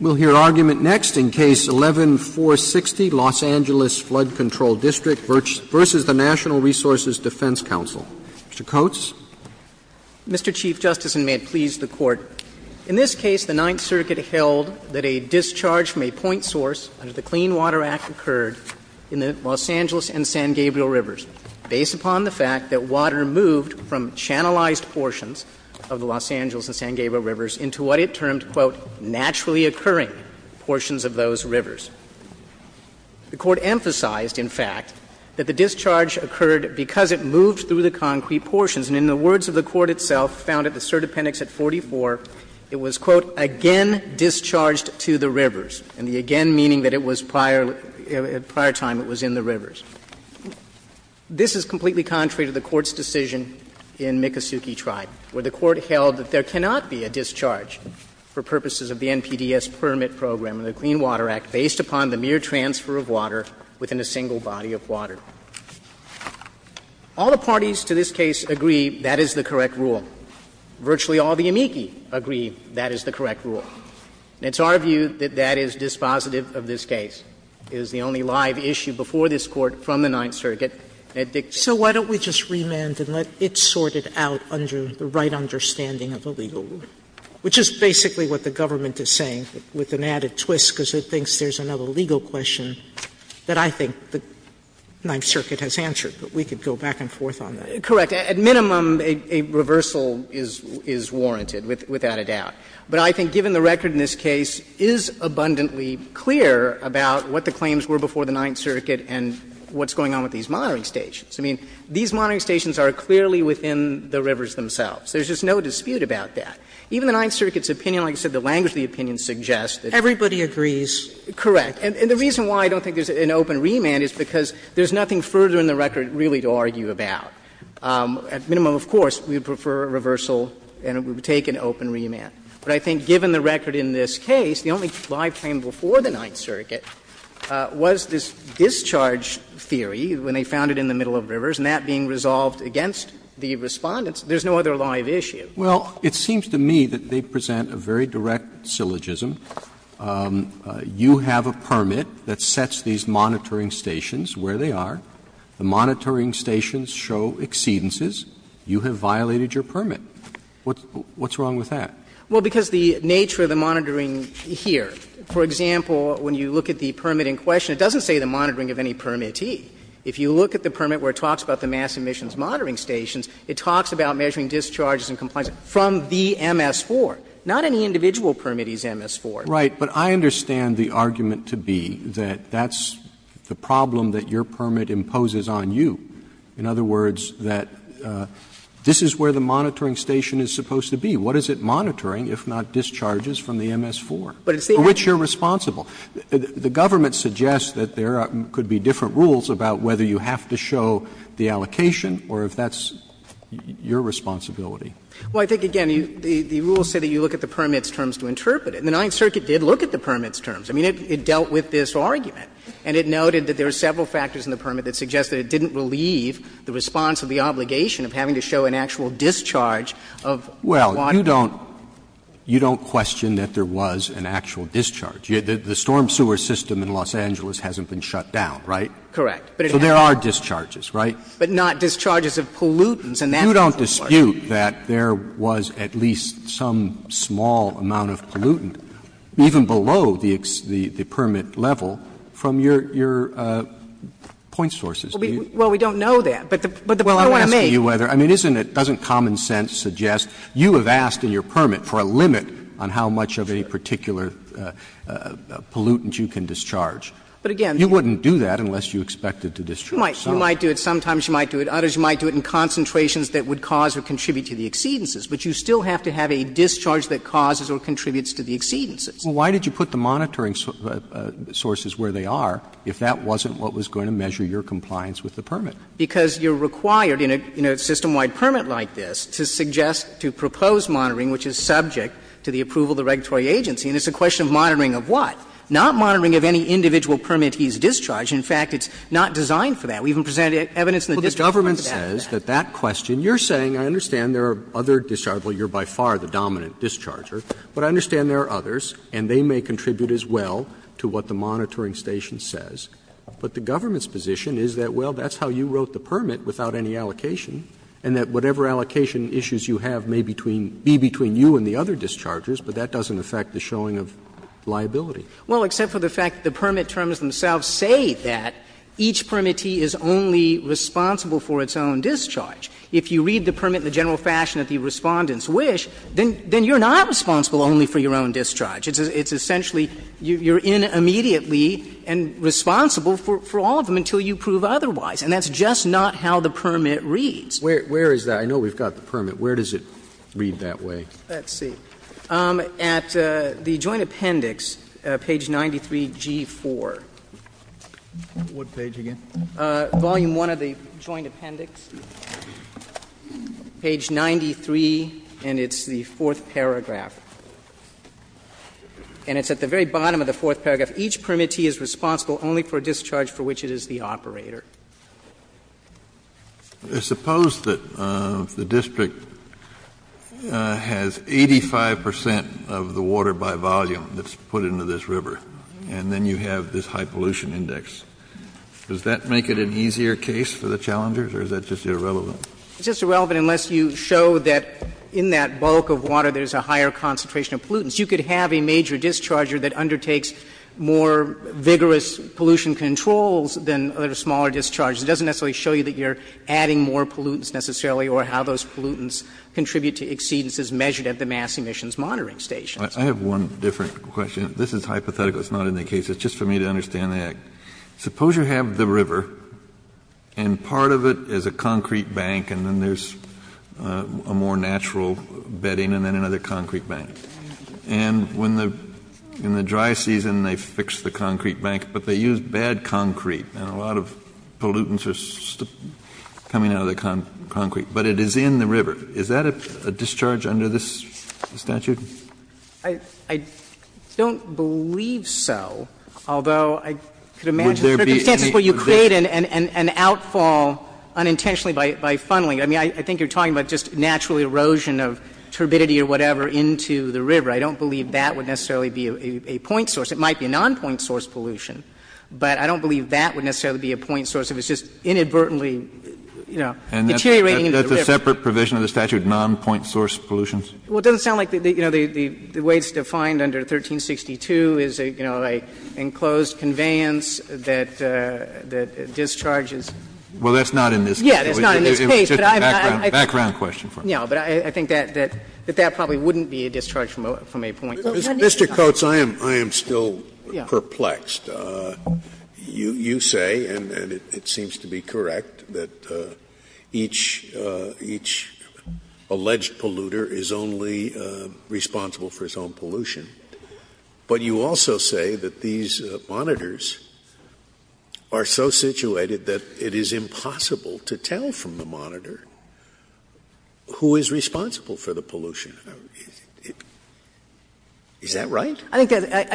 We'll hear argument next in Case 11-460, Los Angeles Flood Control District v. the National Resources Defense Council. Mr. Coates. Mr. Chief Justice, and may it please the Court, in this case, the Ninth Circuit held that a discharge from a point source under the Clean Water Act occurred in the Los Angeles and San Gabriel Rivers based upon the fact that water moved from channelized portions of the Los Angeles and San Gabriel Rivers into what it termed as, quote, naturally occurring portions of those rivers. The Court emphasized, in fact, that the discharge occurred because it moved through the concrete portions. And in the words of the Court itself found at the surdependence at 44, it was, quote, again discharged to the rivers, and the again meaning that it was prior, at prior time, it was in the rivers. This is completely contrary to the Court's decision in Miccosukee Tribe, where the purposes of the NPDES permit program and the Clean Water Act based upon the mere transfer of water within a single body of water. All the parties to this case agree that is the correct rule. Virtually all the amici agree that is the correct rule. And it's our view that that is dispositive of this case. It is the only live issue before this Court from the Ninth Circuit that dictates it. Sotomayor So why don't we just remand and let it sort it out under the right understanding of the legal rule, which is basically what the government is saying, with an added twist because it thinks there's another legal question that I think the Ninth Circuit has answered, but we could go back and forth on that. Correct. At minimum, a reversal is warranted, without a doubt. But I think, given the record in this case, it is abundantly clear about what the claims were before the Ninth Circuit and what's going on with these monitoring stations. I mean, these monitoring stations are clearly within the rivers themselves. There's just no dispute about that. Even the Ninth Circuit's opinion, like I said, the language of the opinion suggests that it's not. Sotomayor Everybody agrees. Correct. And the reason why I don't think there's an open remand is because there's nothing further in the record really to argue about. At minimum, of course, we would prefer a reversal and it would take an open remand. But I think, given the record in this case, the only live claim before the Ninth Circuit was this discharge theory when they found it in the middle of rivers, and that being resolved against the Respondents, there's no other live issue. Roberts Well, it seems to me that they present a very direct syllogism. You have a permit that sets these monitoring stations where they are. The monitoring stations show exceedances. You have violated your permit. What's wrong with that? Well, because the nature of the monitoring here, for example, when you look at the permit in question, it doesn't say the monitoring of any permittee. If you look at the permit where it talks about the mass emissions monitoring stations, it talks about measuring discharges and compliance from the MS-4. Not any individual permittee's MS-4. Roberts Right. But I understand the argument to be that that's the problem that your permit imposes on you. In other words, that this is where the monitoring station is supposed to be. What is it monitoring, if not discharges, from the MS-4? For which you're responsible. The government suggests that there could be different rules about whether you have to show the allocation or if that's your responsibility. Well, I think, again, the rules say that you look at the permit's terms to interpret it. And the Ninth Circuit did look at the permit's terms. I mean, it dealt with this argument. And it noted that there are several factors in the permit that suggest that it didn't relieve the response of the obligation of having to show an actual discharge of water. Roberts But you don't question that there was an actual discharge. The storm sewer system in Los Angeles hasn't been shut down, right? Correct. So there are discharges, right? But not discharges of pollutants and that's important. You don't dispute that there was at least some small amount of pollutant, even below the permit level, from your point sources, do you? Well, we don't know that. But the point I'm making is that the point I'm making is that the point I'm making is that the point I'm making is that the point I'm making is that the point that answer, and you'll have to do it on how much of a particular pollutant you can discharge. But again, you wouldn't do that unless you expected to discharge. Sometimes you might do it, others you might do it in concentrations that would cause or contribute to the exceedances. But you still have to have a discharge that causes or contributes to the exceedances. Well, why did you put the monitoring sources where they are if that wasn't what was going to measure your compliance with the permit? Because you're required in a system-wide permit like this to suggest, to propose monitoring which is subject to the approval of the regulatory agency, and it's a question of monitoring of what? Not monitoring of any individual permit he's discharged. In fact, it's not designed for that. We've even presented evidence in the district courts after that. But the government says that that question, you're saying I understand there are other dischargers, well, you're by far the dominant discharger, but I understand there are others and they may contribute as well to what the monitoring station says. But the government's position is that, well, that's how you wrote the permit without any allocation, and that whatever allocation issues you have may be between you and the other dischargers, but that doesn't affect the showing of liability. Well, except for the fact that the permit terms themselves say that each permittee is only responsible for its own discharge. If you read the permit in the general fashion that the Respondents wish, then you're not responsible only for your own discharge. It's essentially you're in immediately and responsible for all of them until you prove otherwise, and that's just not how the permit reads. Where is that? I know we've got the permit. Where does it read that way? Let's see. At the Joint Appendix, page 93, G4. What page again? Volume 1 of the Joint Appendix, page 93, and it's the fourth paragraph. And it's at the very bottom of the fourth paragraph. Each permittee is responsible only for a discharge for which it is the operator. Kennedy, I suppose that the district has 85 percent of the water by volume that's put into this river, and then you have this high pollution index. Does that make it an easier case for the challengers, or is that just irrelevant? It's just irrelevant unless you show that in that bulk of water there's a higher concentration of pollutants. You could have a major discharger that undertakes more vigorous pollution controls than a smaller discharge. It doesn't necessarily show you that you're adding more pollutants necessarily or how those pollutants contribute to exceedances measured at the mass emissions monitoring stations. Kennedy, I have one different question. This is hypothetical. It's not in the case. It's just for me to understand that. Suppose you have the river and part of it is a concrete bank and then there's a more natural bedding and then another concrete bank. And when the dry season they fix the concrete bank, but they use bad concrete and a lot of pollutants are coming out of the concrete, but it is in the river. Is that a discharge under this statute? I don't believe so, although I could imagine circumstances where you create an outfall unintentionally by funneling. I mean, I think you're talking about just natural erosion of turbidity or whatever into the river. I don't believe that would necessarily be a point source. It might be a nonpoint source pollution, but I don't believe that would necessarily be a point source if it's just inadvertently, you know, deteriorating into the river. Kennedy, that's a separate provision of the statute, nonpoint source pollutions? Well, it doesn't sound like, you know, the way it's defined under 1362 is, you know, an enclosed conveyance that discharges. Well, that's not in this case. Yeah, that's not in this case. But I think that that probably wouldn't be a discharge from a point source. Mr. Coates, I am still perplexed. You say, and it seems to be correct, that each alleged polluter is only a polluter who is only responsible for his own pollution, but you also say that these monitors are so situated that it is impossible to tell from the monitor who is responsible for the pollution. Is that right? I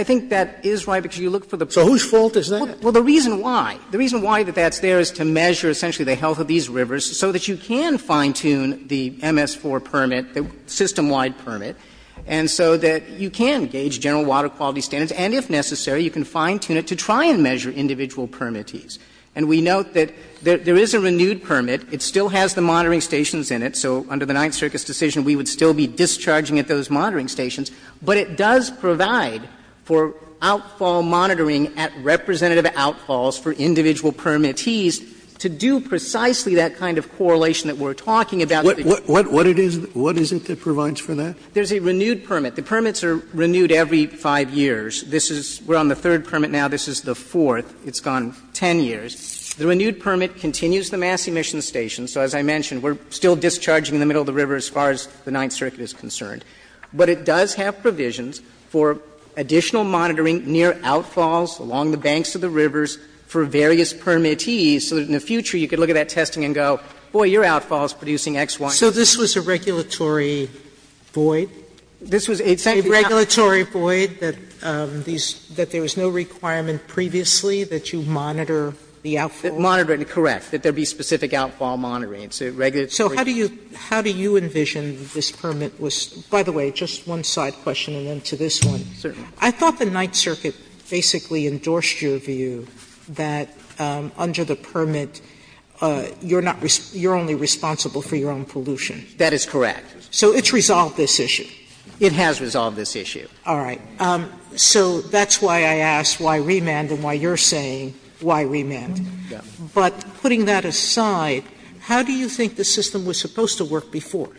think that is right, because you look for the polluter. So whose fault is that? Well, the reason why, the reason why that that's there is to measure, essentially, the health of these rivers so that you can fine-tune the MS-4 permit, the system-wide permit, and so that you can gauge general water quality standards, and if necessary, you can fine-tune it to try and measure individual permittees. And we note that there is a renewed permit. It still has the monitoring stations in it. So under the Ninth Circus decision, we would still be discharging at those monitoring stations, but it does provide for outfall monitoring at representative outfalls for individual permittees to do precisely that kind of correlation that we are talking about. What is it that provides for that? There is a renewed permit. The permits are renewed every 5 years. This is, we are on the third permit now. This is the fourth. It's gone 10 years. The renewed permit continues the mass emission stations. So as I mentioned, we are still discharging in the middle of the river as far as the Ninth Circuit is concerned. But it does have provisions for additional monitoring near outfalls, along the banks of the rivers, for various permittees, so that in the future you can look at that testing and go, boy, your outfall is producing X, Y. Sotomayor So this was a regulatory void? This was a regulatory void that these – that there was no requirement previously that you monitor the outfall? Correct, that there be specific outfall monitoring. It's a regulatory void. Sotomayor So how do you envision this permit was – by the way, just one side question and then to this one. I thought the Ninth Circuit basically endorsed your view. That under the permit, you're not – you're only responsible for your own pollution. That is correct. Sotomayor So it's resolved this issue? It has resolved this issue. Sotomayor All right. So that's why I asked why remand and why you're saying why remand. But putting that aside, how do you think the system was supposed to work before?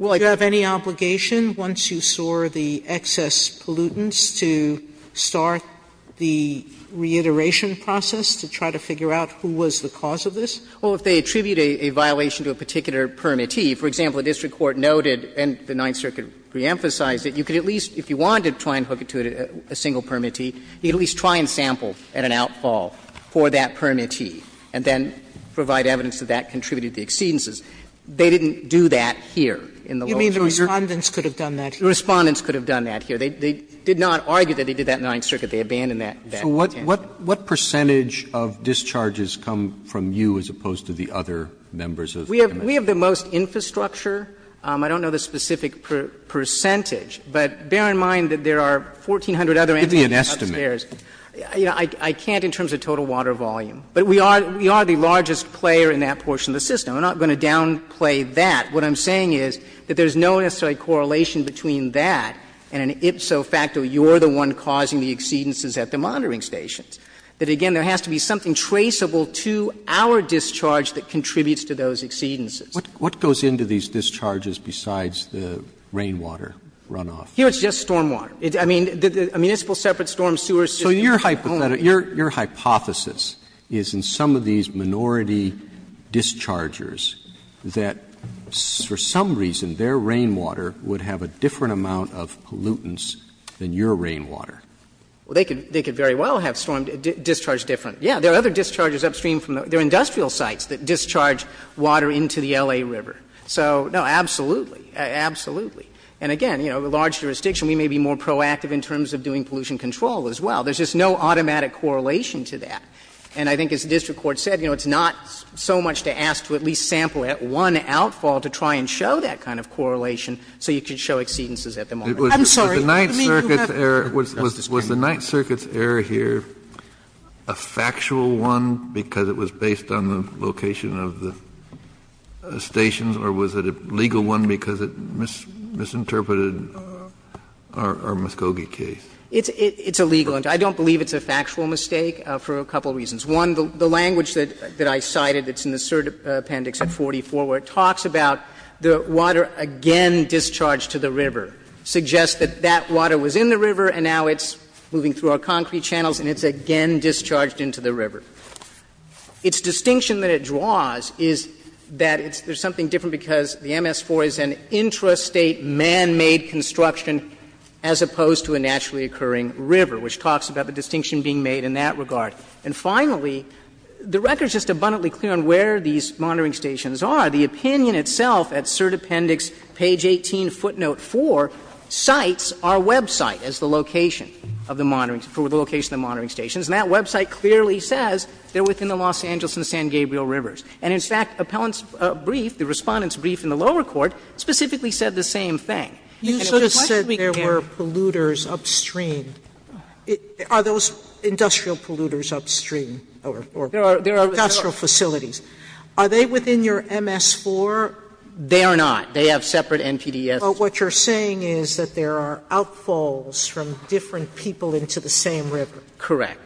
Do you have any obligation, once you soar the excess pollutants, to start the re-emission process, to try to figure out who was the cause of this? Well, if they attribute a violation to a particular permittee, for example, a district court noted, and the Ninth Circuit reemphasized it, you could at least, if you wanted to try and hook it to a single permittee, you could at least try and sample at an outfall for that permittee, and then provide evidence that that contributed to the exceedances. They didn't do that here in the lower jurisdiction. Sotomayor You mean the Respondents could have done that here? The Respondents could have done that here. They did not argue that they did that in the Ninth Circuit. They abandoned that in the Ninth Circuit. So what percentage of discharges come from you as opposed to the other members of the committee? We have the most infrastructure. I don't know the specific percentage, but bear in mind that there are 1,400 other entities upstairs. Give me an estimate. I can't in terms of total water volume. But we are the largest player in that portion of the system. I'm not going to downplay that. What I'm saying is that there's no necessary correlation between that and an ipso facto, you're the one causing the exceedances at the monitoring stations. That, again, there has to be something traceable to our discharge that contributes to those exceedances. What goes into these discharges besides the rainwater runoff? Here, it's just stormwater. I mean, a municipal separate storm sewer system. So your hypothesis is in some of these minority dischargers that for some reason their rainwater would have a different amount of pollutants than your rainwater. Well, they could very well have stormed, discharged different. Yes, there are other discharges upstream from the other. They are industrial sites that discharge water into the L.A. River. So, no, absolutely. Absolutely. And again, you know, the large jurisdiction, we may be more proactive in terms of doing pollution control as well. There's just no automatic correlation to that. And I think as the district court said, you know, it's not so much to ask to at least have a correlation so you can show exceedances at the moment. I'm sorry. I mean, you have to have a correlation. Kennedy was the Ninth Circuit's error here a factual one because it was based on the location of the stations, or was it a legal one because it misinterpreted our Muskogee case? It's a legal one. I don't believe it's a factual mistake for a couple of reasons. One, the language that I cited that's in the cert appendix at 44 where it talks about the water again discharged to the river, suggests that that water was in the river and now it's moving through our concrete channels and it's again discharged into the river. Its distinction that it draws is that there's something different because the MS-4 is an intrastate manmade construction as opposed to a naturally occurring river, which talks about the distinction being made in that regard. And finally, the record is just abundantly clear on where these monitoring stations are. The opinion itself at cert appendix page 18, footnote 4, cites our website as the location of the monitoring, for the location of the monitoring stations, and that website clearly says they're within the Los Angeles and San Gabriel rivers. And, in fact, appellant's brief, the Respondent's brief in the lower court, specifically said the same thing. Sotomayor, you sort of said there were polluters upstream. Are those industrial polluters upstream or industrial facilities? Are they within your MS-4? They are not. They have separate NPDES. Sotomayor, but what you're saying is that there are outfalls from different people into the same river. Correct.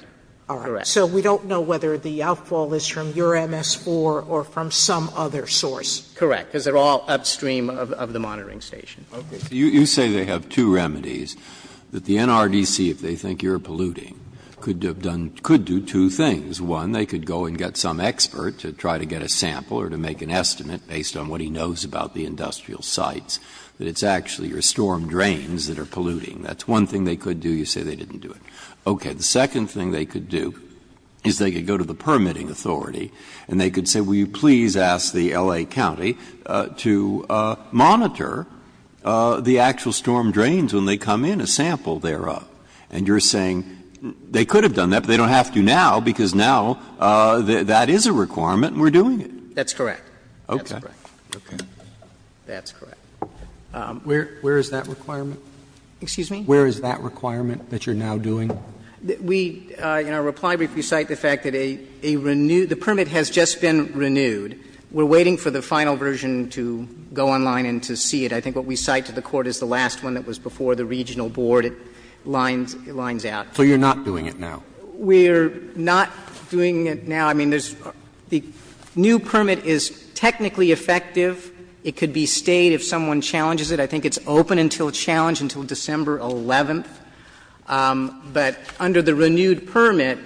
Correct. So we don't know whether the outfall is from your MS-4 or from some other source. Correct, because they're all upstream of the monitoring station. You say they have two remedies, that the NRDC, if they think you're polluting, could have done, could do two things. One, they could go and get some expert to try to get a sample or to make an estimate based on what he knows about the industrial sites, that it's actually your storm drains that are polluting. That's one thing they could do. You say they didn't do it. Okay. The second thing they could do is they could go to the permitting authority and they could say, will you please ask the L.A. County to monitor the actual storm drains when they come in, a sample thereof. And you're saying they could have done that, but they don't have to now because now that is a requirement and we're doing it. That's correct. Okay. That's correct. Where is that requirement? Excuse me? Where is that requirement that you're now doing? We, in our reply brief, we cite the fact that a renewed, the permit has just been renewed. We're waiting for the final version to go online and to see it. I think what we cite to the Court is the last one that was before the regional board. It lines out. So you're not doing it now? We're not doing it now. I mean, there's the new permit is technically effective. It could be stayed if someone challenges it. I think it's open until challenged until December 11th. But under the renewed permit,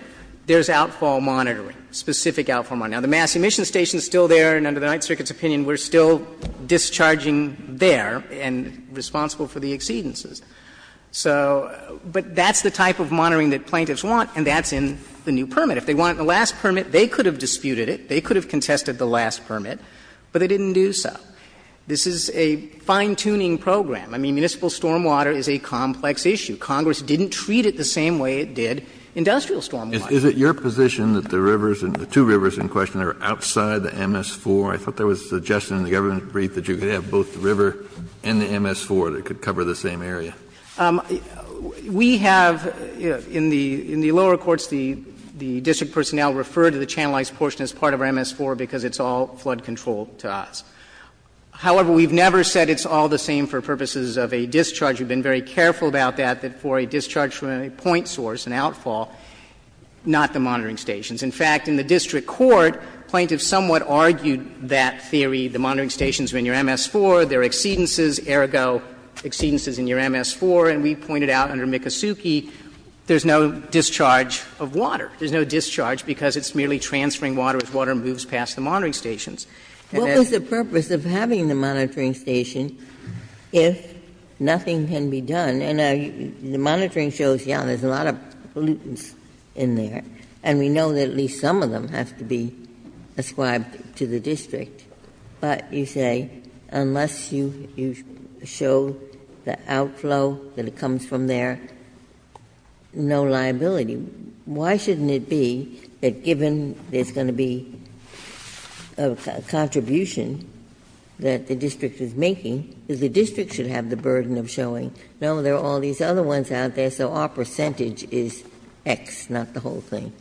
there's outfall monitoring, specific outfall monitoring. Now, the mass emission station is still there and under the Ninth Circuit's opinion, we're still discharging there and responsible for the exceedances. So, but that's the type of monitoring that plaintiffs want and that's in the new permit. If they want it in the last permit, they could have disputed it. They could have contested the last permit, but they didn't do so. This is a fine-tuning program. I mean, municipal stormwater is a complex issue. Congress didn't treat it the same way it did industrial stormwater. Is it your position that the rivers, the two rivers in question, are outside the MS-4? I thought there was a suggestion in the government brief that you could have both the river and the MS-4 that could cover the same area. We have, you know, in the lower courts, the district personnel refer to the channelized portion as part of our MS-4 because it's all flood control to us. However, we've never said it's all the same for purposes of a discharge. We've been very careful about that, that for a discharge from a point source, an outfall, not the monitoring stations. In fact, in the district court, plaintiffs somewhat argued that theory, the monitoring stations are in your MS-4, there are exceedances, ergo exceedances in your MS-4. And we pointed out under Mikosuke, there's no discharge of water. There's no discharge because it's merely transferring water as water moves past the monitoring stations. And that's the purpose of having the monitoring station if nothing can be done. And the monitoring shows, yes, there's a lot of pollutants in there, and we know that at least some of them have to be ascribed to the district. But you say unless you show the outflow that comes from there, no liability. Why shouldn't it be that given there's going to be a contribution that the district is making, that the district should have the burden of showing, no, there are all these other ones out there, so our percentage is X, not the whole thing?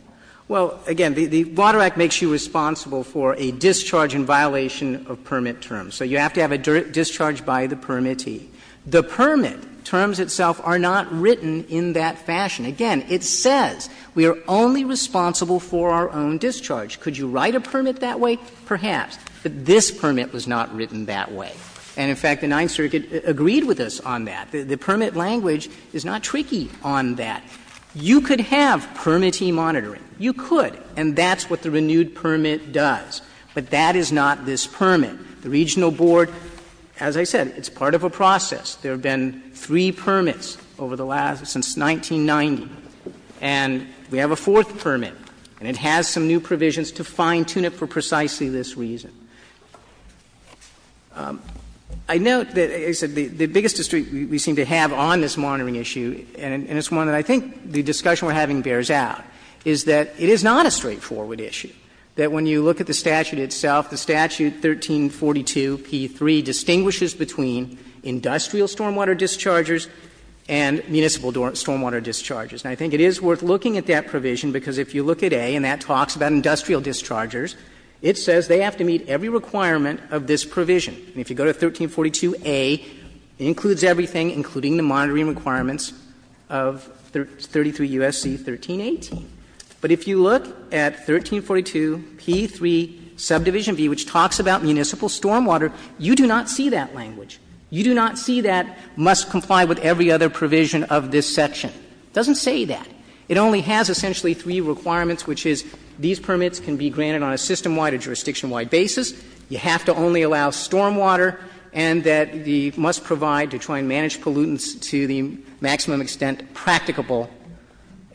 Well, again, the Water Act makes you responsible for a discharge in violation of permit terms. So you have to have a discharge by the permittee. The permit terms itself are not written in that fashion. Again, it says we are only responsible for our own discharge. Could you write a permit that way? But this permit was not written that way. And, in fact, the Ninth Circuit agreed with us on that. The permit language is not tricky on that. You could have permittee monitoring. You could. And that's what the renewed permit does. But that is not this permit. The Regional Board, as I said, it's part of a process. There have been three permits over the last — since 1990. And we have a fourth permit, and it has some new provisions to fine-tune it for precisely this reason. I note that, as I said, the biggest district we seem to have on this monitoring issue, and it's one that I think the discussion we are having bears out, is that it is not a straightforward issue, that when you look at the statute itself, the statute 1342p3 distinguishes between industrial stormwater dischargers and municipal stormwater dischargers. And I think it is worth looking at that provision, because if you look at A, and that talks about industrial dischargers, it says they have to meet every requirement of this provision. And if you go to 1342a, it includes everything, including the monitoring requirements of 33 U.S.C. 1318. But if you look at 1342p3, subdivision B, which talks about municipal stormwater, you do not see that language. You do not see that must comply with every other provision of this section. It doesn't say that. It only has essentially three requirements, which is these permits can be granted on a system-wide or jurisdiction-wide basis. You have to only allow stormwater, and that the must provide to try and manage pollutants to the maximum extent practicable,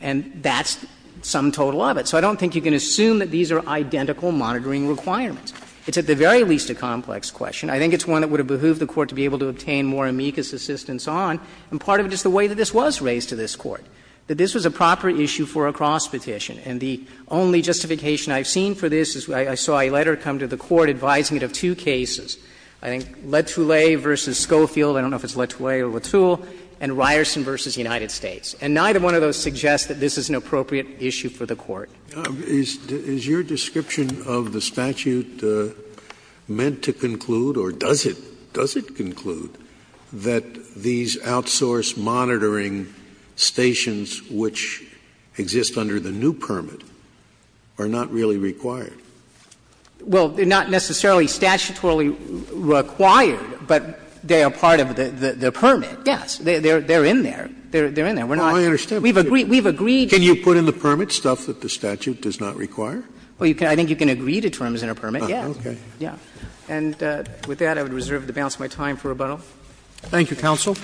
and that's some total of it. So I don't think you can assume that these are identical monitoring requirements. It's at the very least a complex question. I think it's one that would have behooved the Court to be able to obtain more amicus assistance on. And part of it is the way that this was raised to this Court, that this was a proper issue for a cross petition. And the only justification I've seen for this is I saw a letter come to the Court advising it of two cases. I think LeToulet v. Schofield, I don't know if it's LeToulet or LeToul, and Ryerson v. United States. And neither one of those suggests that this is an appropriate issue for the Court. Scalia. Is your description of the statute meant to conclude, or does it, does it conclude that these outsource monitoring stations which exist under the new permit are not really required? Well, they're not necessarily statutorily required, but they are part of the permit. Yes. They're in there. They're in there. We're not. We've agreed. We've agreed. Can you put in the permit stuff that the statute does not require? Well, I think you can agree to terms in a permit, yes. Okay. Yeah. And with that, I would reserve the balance of my time for rebuttal. Thank you, counsel.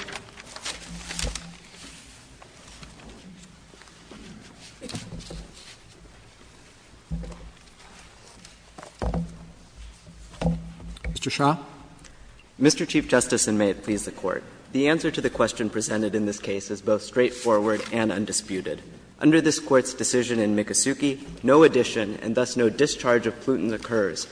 Mr. Shah. Mr. Chief Justice, and may it please the Court. The answer to the question presented in this case is both straightforward and undisputed. Under this Court's decision in Mikosuke, no addition and thus no discharge of Pluton occurs.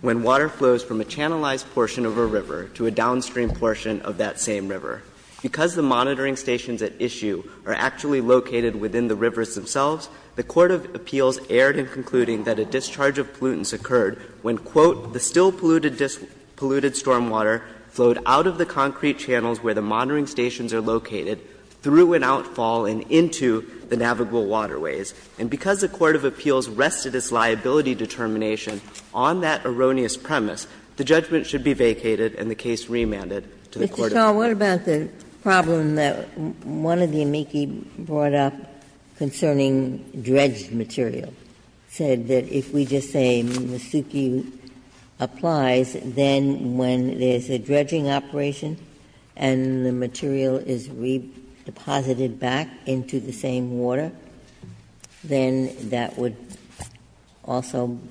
When water flows from a channelized portion of a river to a downstream portion of that same river. Because the monitoring stations at issue are actually located within the rivers themselves, the court of appeals erred in concluding that a discharge of Pluton occurred when, quote, the still polluted stormwater flowed out of the concrete channels where the monitoring stations are located, through and outfall and into the navigable waterways. And because the court of appeals rested its liability determination on that erroneous premise, the judgment should be vacated and the case remanded to the court of appeals. Ginsburg. Mr. Shah, what about the problem that one of the amici brought up concerning dredged material, said that if we just say Mikosuke applies, then when there's a dredging operation and the material is redeposited back into the same water, then that would also be,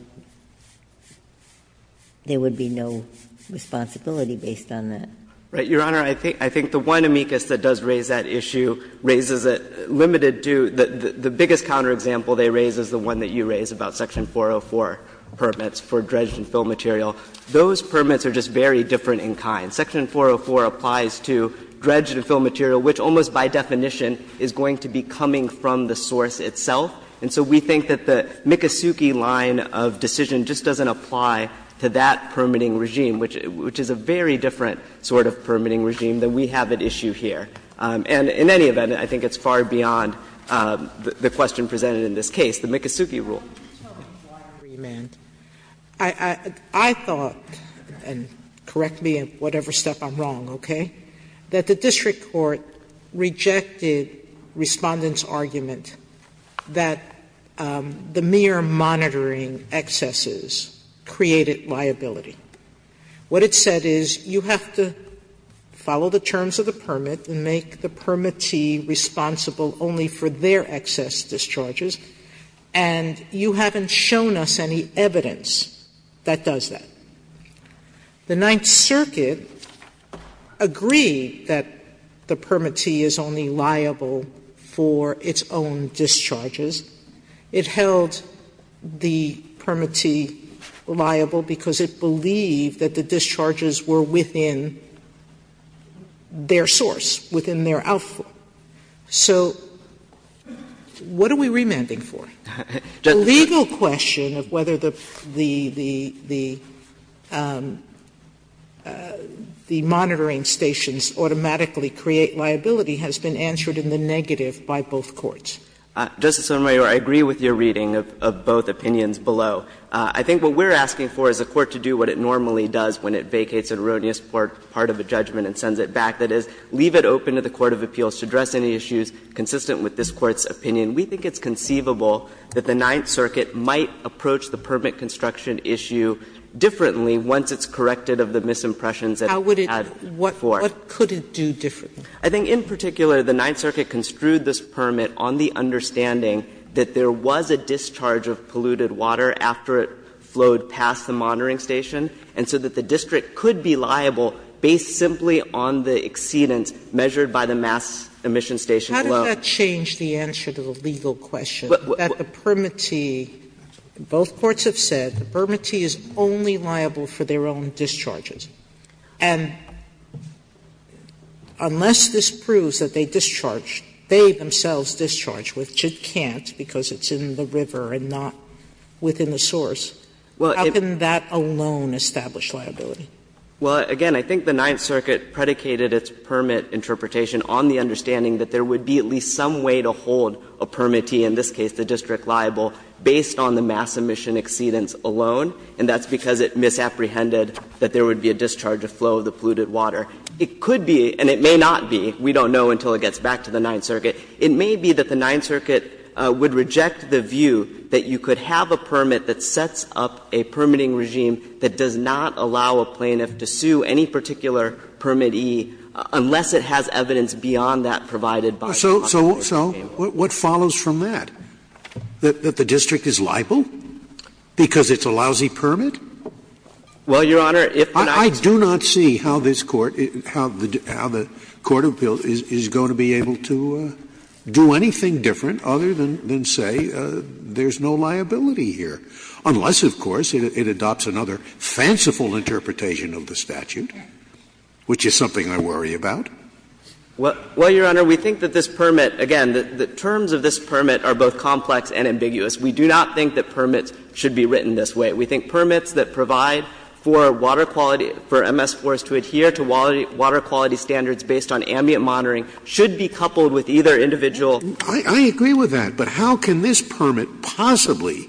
there would be no responsibility based on that. Shah, Your Honor, I think the one amicus that does raise that issue raises a limited to, the biggest counterexample they raise is the one that you raise about section 404 permits for dredged and fill material. Those permits are just very different in kind. Section 404 applies to dredged and fill material, which almost by definition is going to be coming from the source itself. And so we think that the Mikosuke line of decision just doesn't apply to that permitting regime, which is a very different sort of permitting regime than we have at issue here. And in any event, I think it's far beyond the question presented in this case, the Mikosuke rule. Sotomayor, I thought, and correct me in whatever step I'm wrong, okay, that the district court rejected Respondent's argument that the mere monitoring excesses created liability. What it said is, you have to follow the terms of the permit and make the permittee responsible only for their excess discharges, and you haven't shown us any evidence that does that. The Ninth Circuit agreed that the permittee is only liable for its own discharges. It held the permittee liable because it believed that the discharges were within their source, within their outflow. So what are we remanding for? The legal question of whether the monitoring stations automatically create liability has been answered in the negative by both courts. Shahrer, I agree with your reading of both opinions below. I think what we're asking for is a court to do what it normally does when it vacates an erroneous part of a judgment and sends it back. That is, leave it open to the court of appeals to address any issues consistent with this Court's opinion. We think it's conceivable that the Ninth Circuit might approach the permit construction issue differently once it's corrected of the misimpressions that it had before. Sotomayor, what could it do differently? I think in particular, the Ninth Circuit construed this permit on the understanding that there was a discharge of polluted water after it flowed past the monitoring station, and so that the district could be liable based simply on the exceedance measured by the mass emission station below. Sotomayor, how did that change the answer to the legal question, that the permittee – both courts have said the permittee is only liable for their own discharges, and unless this proves that they discharged, they themselves discharged, which it can't because it's in the river and not within the source, how can that alone establish liability? Well, again, I think the Ninth Circuit predicated its permit interpretation on the understanding that there would be at least some way to hold a permittee, in this case the district liable, based on the mass emission exceedance alone, and that's because it misapprehended that there would be a discharge of flow of the polluted water. It could be, and it may not be, we don't know until it gets back to the Ninth Circuit, it may be that the Ninth Circuit would reject the view that you could have a permit that sets up a permitting regime that does not allow a plaintiff to sue any particular permittee, unless it has evidence beyond that provided by the Constitution. So what follows from that? That the district is liable because it's a lousy permit? Well, Your Honor, if the Ninth Circuit doesn't have a permittee, then it's not liable. I do not see how this Court, how the court of appeals is going to be able to do anything different other than say there's no liability here, unless, of course, it adopts another fanciful interpretation of the statute. Which is something I worry about. Well, Your Honor, we think that this permit, again, the terms of this permit are both complex and ambiguous. We do not think that permits should be written this way. We think permits that provide for water quality, for MS4s to adhere to water quality standards based on ambient monitoring should be coupled with either individual I agree with that, but how can this permit possibly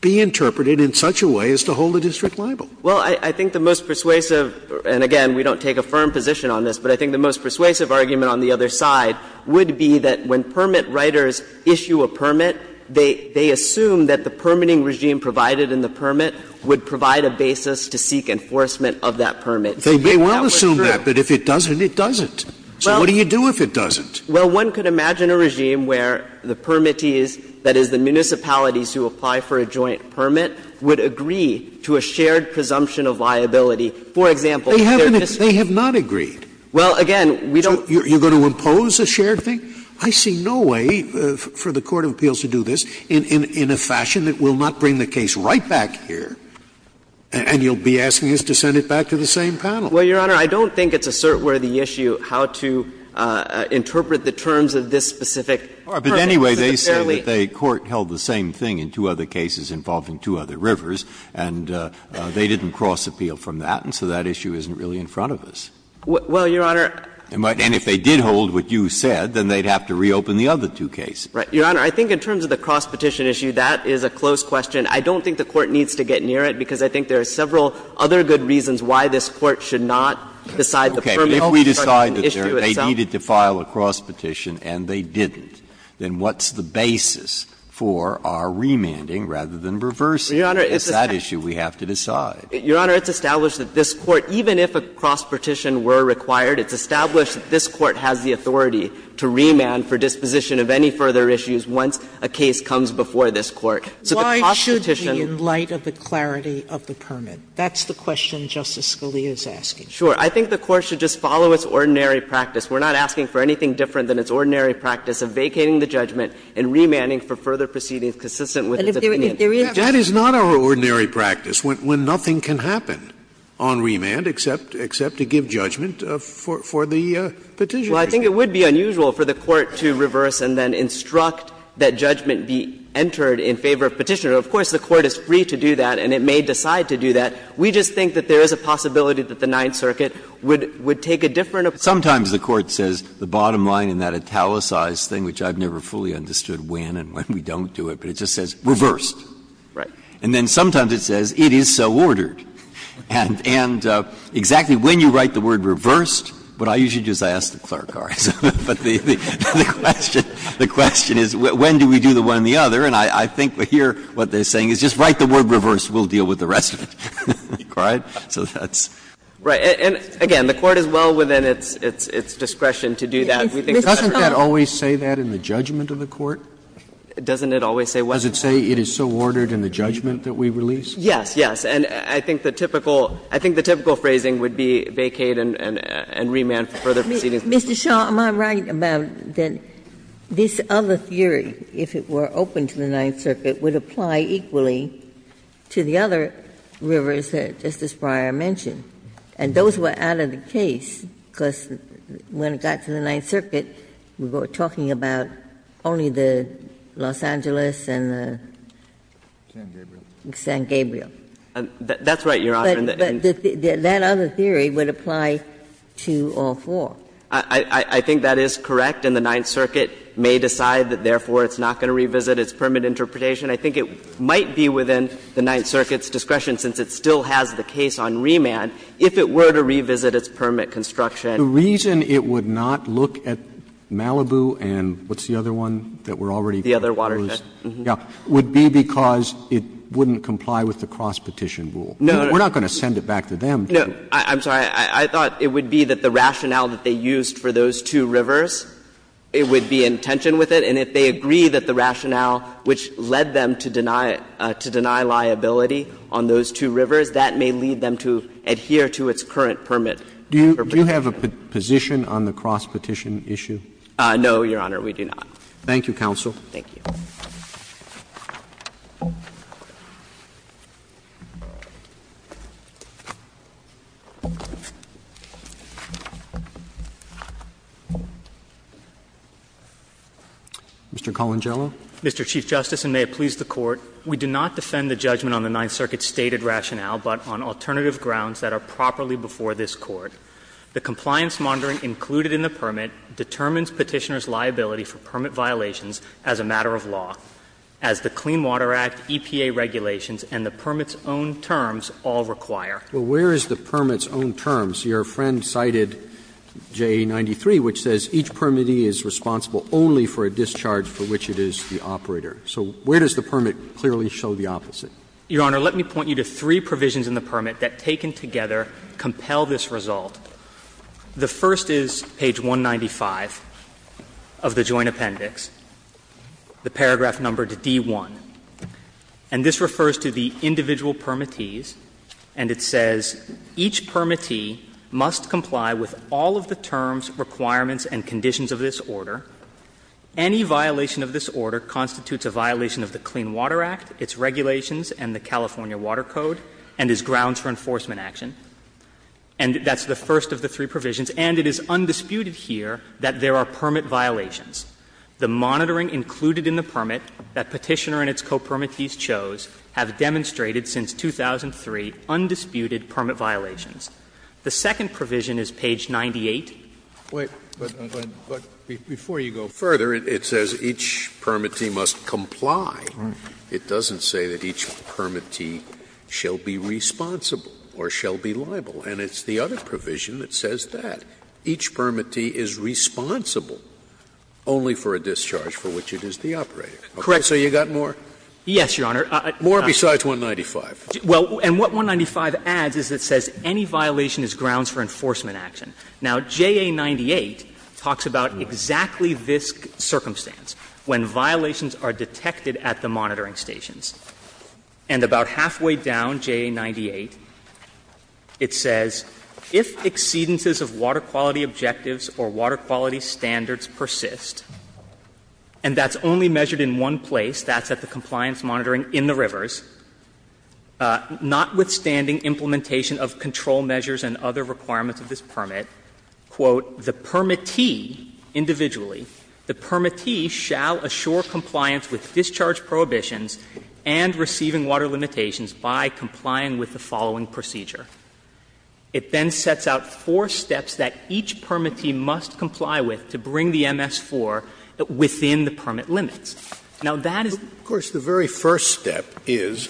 be interpreted in such a way as to hold the district liable? Well, I think the most persuasive, and again, we don't take a firm position on this, but I think the most persuasive argument on the other side would be that when permit writers issue a permit, they assume that the permitting regime provided in the permit would provide a basis to seek enforcement of that permit. So that would be true. They may well assume that, but if it doesn't, it doesn't. So what do you do if it doesn't? Well, one could imagine a regime where the permittees, that is, the municipalities who apply for a joint permit, would agree to a shared presumption of liability. For example, if they're district liable. They have not agreed. Well, again, we don't. You're going to impose a shared thing? I see no way for the court of appeals to do this in a fashion that will not bring the case right back here, and you'll be asking us to send it back to the same panel. Well, Your Honor, I don't think it's a cert-worthy issue how to interpret the terms of this specific permit. But anyway, they say that the court held the same thing in two other cases involving two other rivers, and they didn't cross-appeal from that, and so that issue isn't really in front of us. Well, Your Honor. And if they did hold what you said, then they'd have to reopen the other two cases. Right. Your Honor, I think in terms of the cross-petition issue, that is a close question. I don't think the court needs to get near it, because I think there are several of the issue itself. If we decide that they needed to file a cross-petition and they didn't, then what's the basis for our remanding rather than reversing it? It's that issue we have to decide. Your Honor, it's established that this Court, even if a cross-petition were required, it's established that this Court has the authority to remand for disposition of any further issues once a case comes before this Court. So the cross-petition Why should we, in light of the clarity of the permit? That's the question Justice Scalia is asking. Sure. I think the Court should just follow its ordinary practice. We're not asking for anything different than its ordinary practice of vacating the judgment and remanding for further proceedings consistent with its opinion. That is not our ordinary practice, when nothing can happen on remand except to give judgment for the petitioner. Well, I think it would be unusual for the Court to reverse and then instruct that judgment be entered in favor of Petitioner. Of course, the Court is free to do that, and it may decide to do that. We just think that there is a possibility that the Ninth Circuit would take a different approach. Sometimes the Court says the bottom line in that italicized thing, which I've never fully understood when and when we don't do it, but it just says reversed. Right. And then sometimes it says it is so ordered. And exactly when you write the word reversed, what I usually do is I ask the clerk cards. But the question is when do we do the one and the other, and I think here what they're saying is just write the word reversed. We'll deal with the rest of it. So that's right. And again, the Court is well within its discretion to do that. We think it's better to do that. Sotomayor, doesn't that always say that in the judgment of the Court? Doesn't it always say what? Does it say it is so ordered in the judgment that we release? Yes, yes. And I think the typical phrasing would be vacate and remand for further proceedings. Mr. Shaw, am I right about that this other theory, if it were open to the Ninth Circuit, would apply equally to the other rivers that Justice Breyer mentioned? And those were out of the case, because when it got to the Ninth Circuit, we were talking about only the Los Angeles and the San Gabriel. That's right, Your Honor. But that other theory would apply to all four. I think that is correct, and the Ninth Circuit may decide that therefore it's not going to revisit its permit interpretation. I think it might be within the Ninth Circuit's discretion, since it still has the case on remand, if it were to revisit its permit construction. The reason it would not look at Malibu and what's the other one that we're already going to close? The other watershed. Yeah. Would be because it wouldn't comply with the cross-petition rule. No, no. We're not going to send it back to them. No. I'm sorry. I thought it would be that the rationale that they used for those two rivers, it would be in tension with it. And if they agree that the rationale which led them to deny it, to deny liability on those two rivers, that may lead them to adhere to its current permit interpretation. Do you have a position on the cross-petition issue? No, Your Honor, we do not. Thank you, counsel. Thank you. Mr. Colangelo. Mr. Chief Justice, and may it please the Court, we do not defend the judgment on the Ninth Circuit's stated rationale, but on alternative grounds that are properly before this Court. The compliance monitoring included in the permit determines Petitioner's liability for permit violations as a matter of law, as the Clean Water Act, EPA regulations, and the permit's own terms all require. Well, where is the permit's own terms? Your friend cited JA93, which says each permittee is responsible only for a discharge for which it is the operator. So where does the permit clearly show the opposite? Your Honor, let me point you to three provisions in the permit that, taken together, compel this result. The first is page 195 of the Joint Appendix, the paragraph numbered D1. And this refers to the individual permittees, and it says, Each permittee must comply with all of the terms, requirements, and conditions of this order. Any violation of this order constitutes a violation of the Clean Water Act, its regulations, and the California Water Code, and is grounds for enforcement action. And that's the first of the three provisions. And it is undisputed here that there are permit violations. The monitoring included in the permit that Petitioner and its co-permittees chose have demonstrated since 2003 undisputed permit violations. The second provision is page 98. Scalia. But before you go further, it says each permittee must comply. It doesn't say that each permittee shall be responsible or shall be liable. And it's the other provision that says that. Each permittee is responsible only for a discharge for which it is the operator. So you've got more? Yes, Your Honor. More besides 195. Well, and what 195 adds is it says any violation is grounds for enforcement action. Now, JA 98 talks about exactly this circumstance. When violations are detected at the monitoring stations. And about halfway down JA 98, it says, If exceedances of water quality objectives or water quality standards persist and that's only measured in one place, that's at the compliance monitoring in the rivers, notwithstanding implementation of control measures and other requirements of this permit, quote, The permittee, individually, the permittee shall assure compliance with discharge prohibitions and receiving water limitations by complying with the following procedure. It then sets out four steps that each permittee must comply with to bring the MS-4 within the permit limits. Now, that is Of course, the very first step is,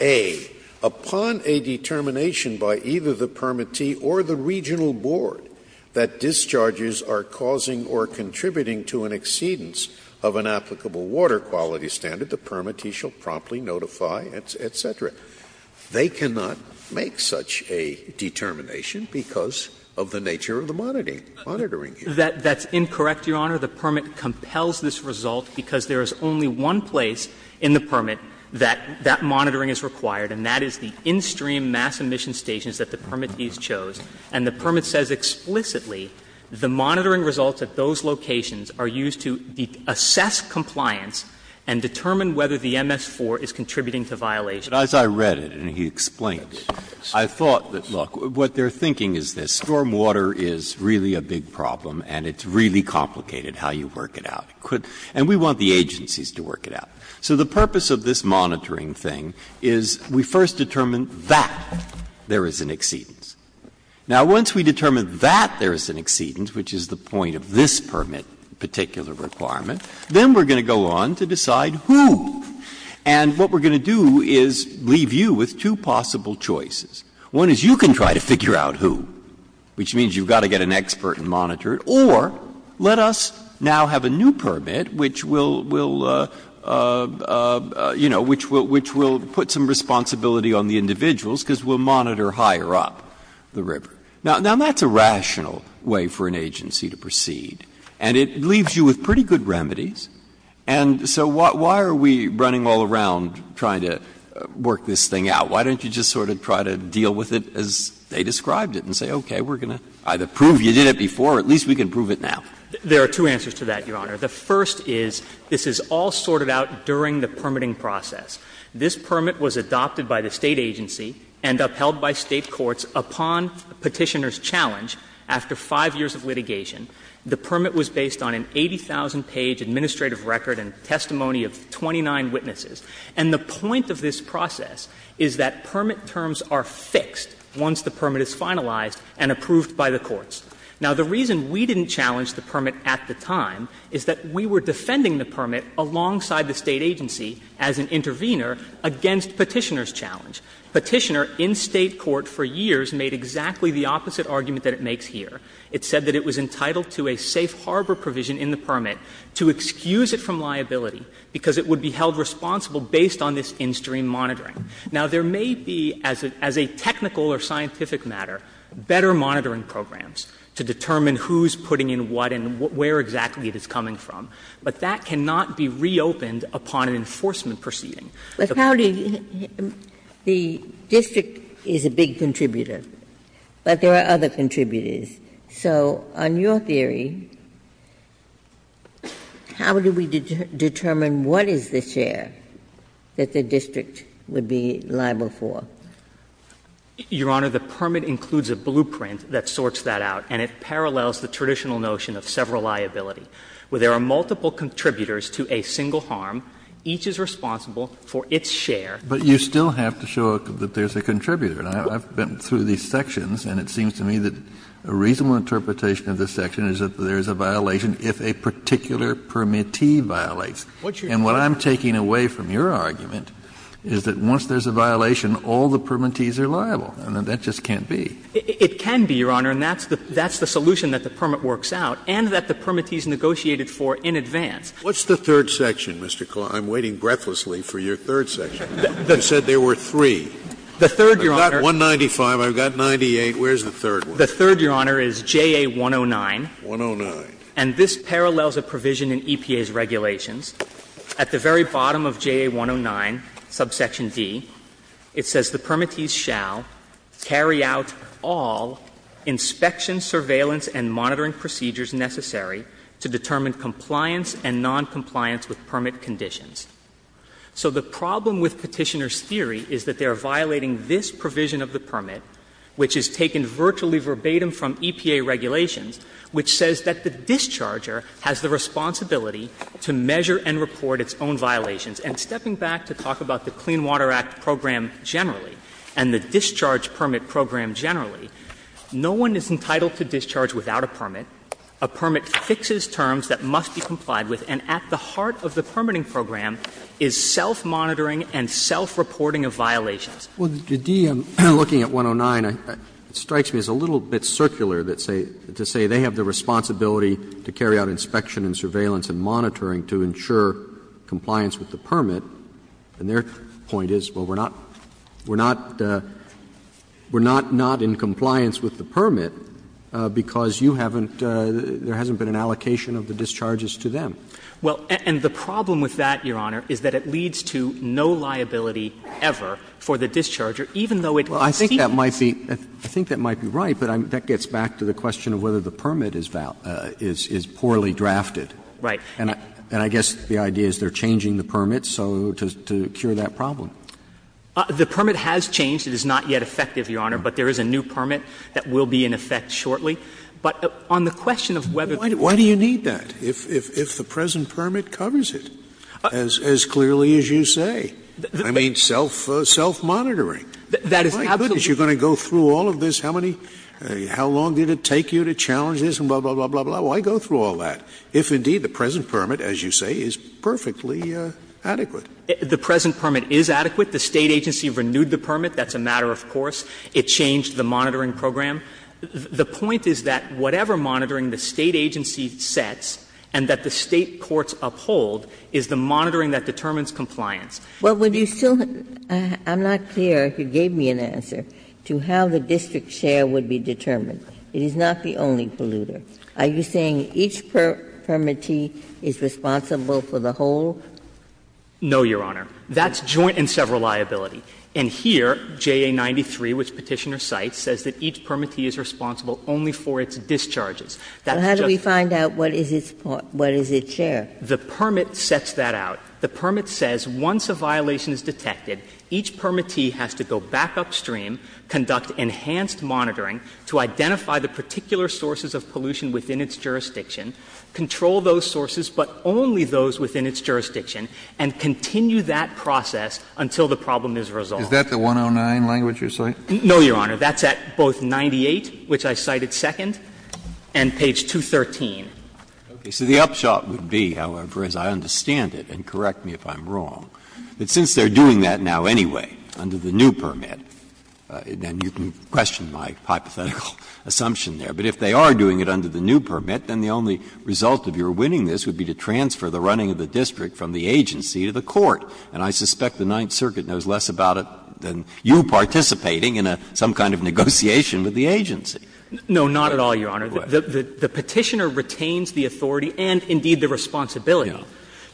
A, upon a determination by either the permittee or the regional board that discharges are causing or contributing to an exceedance of an applicable water quality standard, the permittee shall promptly notify, et cetera. They cannot make such a determination because of the nature of the monitoring here. That's incorrect, Your Honor. The permit compels this result because there is only one place in the permit that that monitoring is required, and that is the in-stream mass emission stations that the permittees chose. And the permit says explicitly the monitoring results at those locations are used to assess compliance and determine whether the MS-4 is contributing to violation. Breyer, But as I read it, and he explained it, I thought that, look, what they're thinking is this. Stormwater is really a big problem and it's really complicated how you work it out. And we want the agencies to work it out. So the purpose of this monitoring thing is we first determine that there is an exceedance. Now, once we determine that there is an exceedance, which is the point of this permit particular requirement, then we're going to go on to decide who. And what we're going to do is leave you with two possible choices. One is you can try to figure out who, which means you've got to get an expert and monitor it, or let us now have a new permit which will, will, you know, which will put some responsibility on the individuals because we'll monitor higher up the river. Now, that's a rational way for an agency to proceed, and it leaves you with pretty good remedies. And so why are we running all around trying to work this thing out? Why don't you just sort of try to deal with it as they described it and say, okay, we're going to either prove you did it before or at least we can prove it now. There are two answers to that, Your Honor. The first is this is all sorted out during the permitting process. This permit was adopted by the State agency and upheld by State courts upon Petitioner's challenge after 5 years of litigation. The permit was based on an 80,000-page administrative record and testimony of 29 witnesses. And the point of this process is that permit terms are fixed once the permit is finalized and approved by the courts. Now, the reason we didn't challenge the permit at the time is that we were defending the permit alongside the State agency as an intervener against Petitioner's challenge. Petitioner, in State court for years, made exactly the opposite argument that it makes here. It said that it was entitled to a safe harbor provision in the permit to excuse it from liability because it would be held responsible based on this in-stream monitoring. Now, there may be, as a technical or scientific matter, better monitoring programs to determine who's putting in what and where exactly it is coming from, but that cannot be reopened upon an enforcement proceeding. Ginsburg. But how do you — the district is a big contributor, but there are other contributors. So on your theory, how do we determine what is the share that the district would be liable for? Your Honor, the permit includes a blueprint that sorts that out, and it parallels the traditional notion of several liability, where there are multiple contributors to a single harm, each is responsible for its share. But you still have to show that there's a contributor. I've been through these sections, and it seems to me that a reasonable interpretation of this section is that there's a violation if a particular permittee violates. And what I'm taking away from your argument is that once there's a violation, all the permittees are liable, and that just can't be. It can be, Your Honor, and that's the solution that the permit works out and that the permittees negotiated for in advance. What's the third section, Mr. Kline? I'm waiting breathlessly for your third section. You said there were three. The third, Your Honor. I've got 195, I've got 98, where's the third one? The third, Your Honor, is JA-109. 109. And this parallels a provision in EPA's regulations. At the very bottom of JA-109, subsection D, it says, the permittees shall carry out all inspection, surveillance, and monitoring procedures necessary to determine compliance and noncompliance with permit conditions. So the problem with Petitioner's theory is that they are violating this provision of the permit, which is taken virtually verbatim from EPA regulations, which says that the discharger has the responsibility to measure and report its own violations. And stepping back to talk about the Clean Water Act program generally and the discharge permit program generally, no one is entitled to discharge without a permit. A permit fixes terms that must be complied with, and at the heart of the permitting program is self-monitoring and self-reporting of violations. Roberts. Well, the D, looking at 109, it strikes me as a little bit circular to say they have the responsibility to carry out inspection and surveillance and monitoring to ensure compliance with the permit, and their point is, well, we're not — we're not — we're not not in compliance with the permit because you haven't — there hasn't been an allocation of the discharges to them. Well, and the problem with that, Your Honor, is that it leads to no liability ever for the discharger, even though it would seem to. Well, I think that might be — I think that might be right, but that gets back to the question of whether the permit is — is poorly drafted. Right. And I guess the idea is they're changing the permit, so — to cure that problem. The permit has changed. It is not yet effective, Your Honor, but there is a new permit that will be in effect But on the question of whether the permit is in effect, I think that's a good point. Why do you need that, if the present permit covers it as clearly as you say? I mean, self-monitoring. That is absolutely— My goodness, you're going to go through all of this? How many — how long did it take you to challenge this, and blah, blah, blah, blah? Why go through all that if, indeed, the present permit, as you say, is perfectly adequate? The present permit is adequate. The State agency renewed the permit. That's a matter of course. It changed the monitoring program. The point is that whatever monitoring the State agency sets and that the State courts uphold is the monitoring that determines compliance. Well, would you still — I'm not clear, if you gave me an answer, to how the district share would be determined. It is not the only polluter. Are you saying each permittee is responsible for the whole? No, Your Honor. That's joint and several liability. And here, JA 93, which Petitioner cites, says that each permittee is responsible only for its discharges. That's just— How do we find out what is its share? The permit sets that out. The permit says once a violation is detected, each permittee has to go back upstream, conduct enhanced monitoring to identify the particular sources of pollution within its jurisdiction, control those sources, but only those within its jurisdiction, and continue that process until the problem is resolved. Is that the 109 language you're citing? No, Your Honor. That's at both 98, which I cited second, and page 213. Okay. So the upshot would be, however, as I understand it, and correct me if I'm wrong, that since they're doing that now anyway under the new permit, then you can question my hypothetical assumption there, but if they are doing it under the new permit, then the only result of your winning this would be to transfer the running of the district from the agency to the court, and I suspect the Ninth Circuit knows less about it than you participating in some kind of negotiation with the agency. No, not at all, Your Honor. The Petitioner retains the authority and, indeed, the responsibility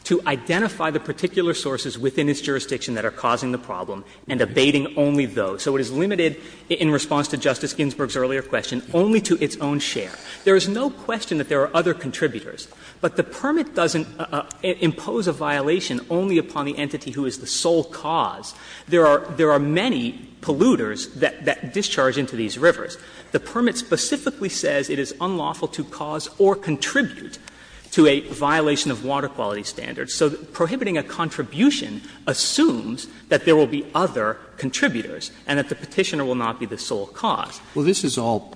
to identify the particular sources within its jurisdiction that are causing the problem and abating only those. So it is limited in response to Justice Ginsburg's earlier question only to its own share. There is no question that there are other contributors, but the permit doesn't impose a violation only upon the entity who is the sole cause. There are many polluters that discharge into these rivers. The permit specifically says it is unlawful to cause or contribute to a violation of water quality standards. So prohibiting a contribution assumes that there will be other contributors and that the Petitioner will not be the sole cause. Roberts. Well, this is all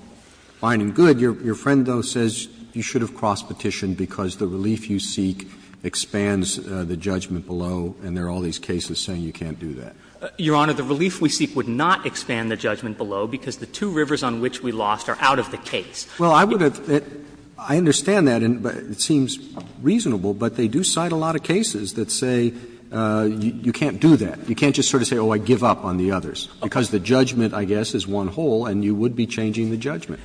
fine and good. Your friend, though, says you should have crossed petition because the relief you seek expands the judgment below and there are all these cases saying you can't do that. Your Honor, the relief we seek would not expand the judgment below because the two rivers on which we lost are out of the case. Well, I would have — I understand that, and it seems reasonable, but they do cite a lot of cases that say you can't do that. You can't just sort of say, oh, I give up on the others, because the judgment, I guess, is one whole and you would be changing the judgment.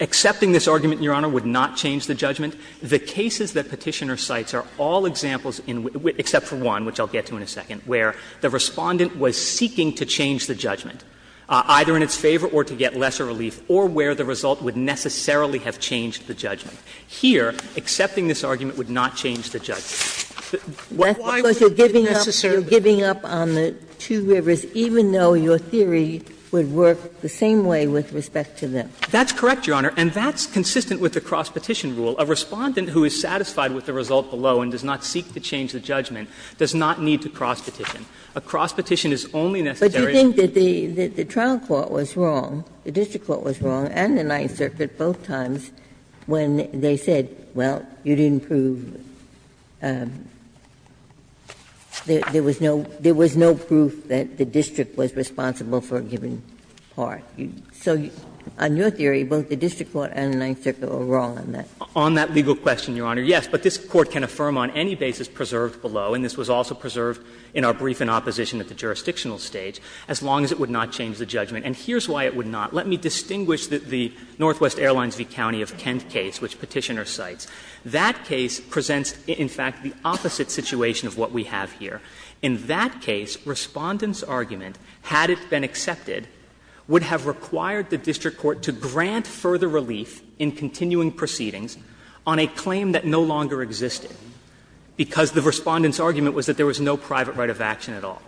Accepting this argument, Your Honor, would not change the judgment. The cases that Petitioner cites are all examples in — except for one, which I'll get to in a second, where the Respondent was seeking to change the judgment, either in its favor or to get lesser relief, or where the result would necessarily have changed the judgment. Here, accepting this argument would not change the judgment. Why would it necessarily? Because you're giving up on the two rivers, even though your theory would work the same way with respect to them. That's correct, Your Honor, and that's consistent with the cross-petition rule. A Respondent who is satisfied with the result below and does not seek to change the judgment does not need to cross-petition. A cross-petition is only necessary if the result is not changed. Ginsburg. The trial court was wrong, the district court was wrong, and the Ninth Circuit both times when they said, well, you didn't prove — there was no proof that the district was responsible for a given part. So on your theory, both the district court and the Ninth Circuit were wrong on that. On that legal question, Your Honor, yes, but this Court can affirm on any basis preserved below, and this was also preserved in our brief in opposition at the jurisdictional stage, as long as it would not change the judgment. And here's why it would not. Let me distinguish the Northwest Airlines v. County of Kent case, which Petitioner cites. That case presents, in fact, the opposite situation of what we have here. In that case, Respondent's argument, had it been accepted, would have required the district court to grant further relief in continuing proceedings on a claim that no longer existed, because the Respondent's argument was that there was no private right of action at all.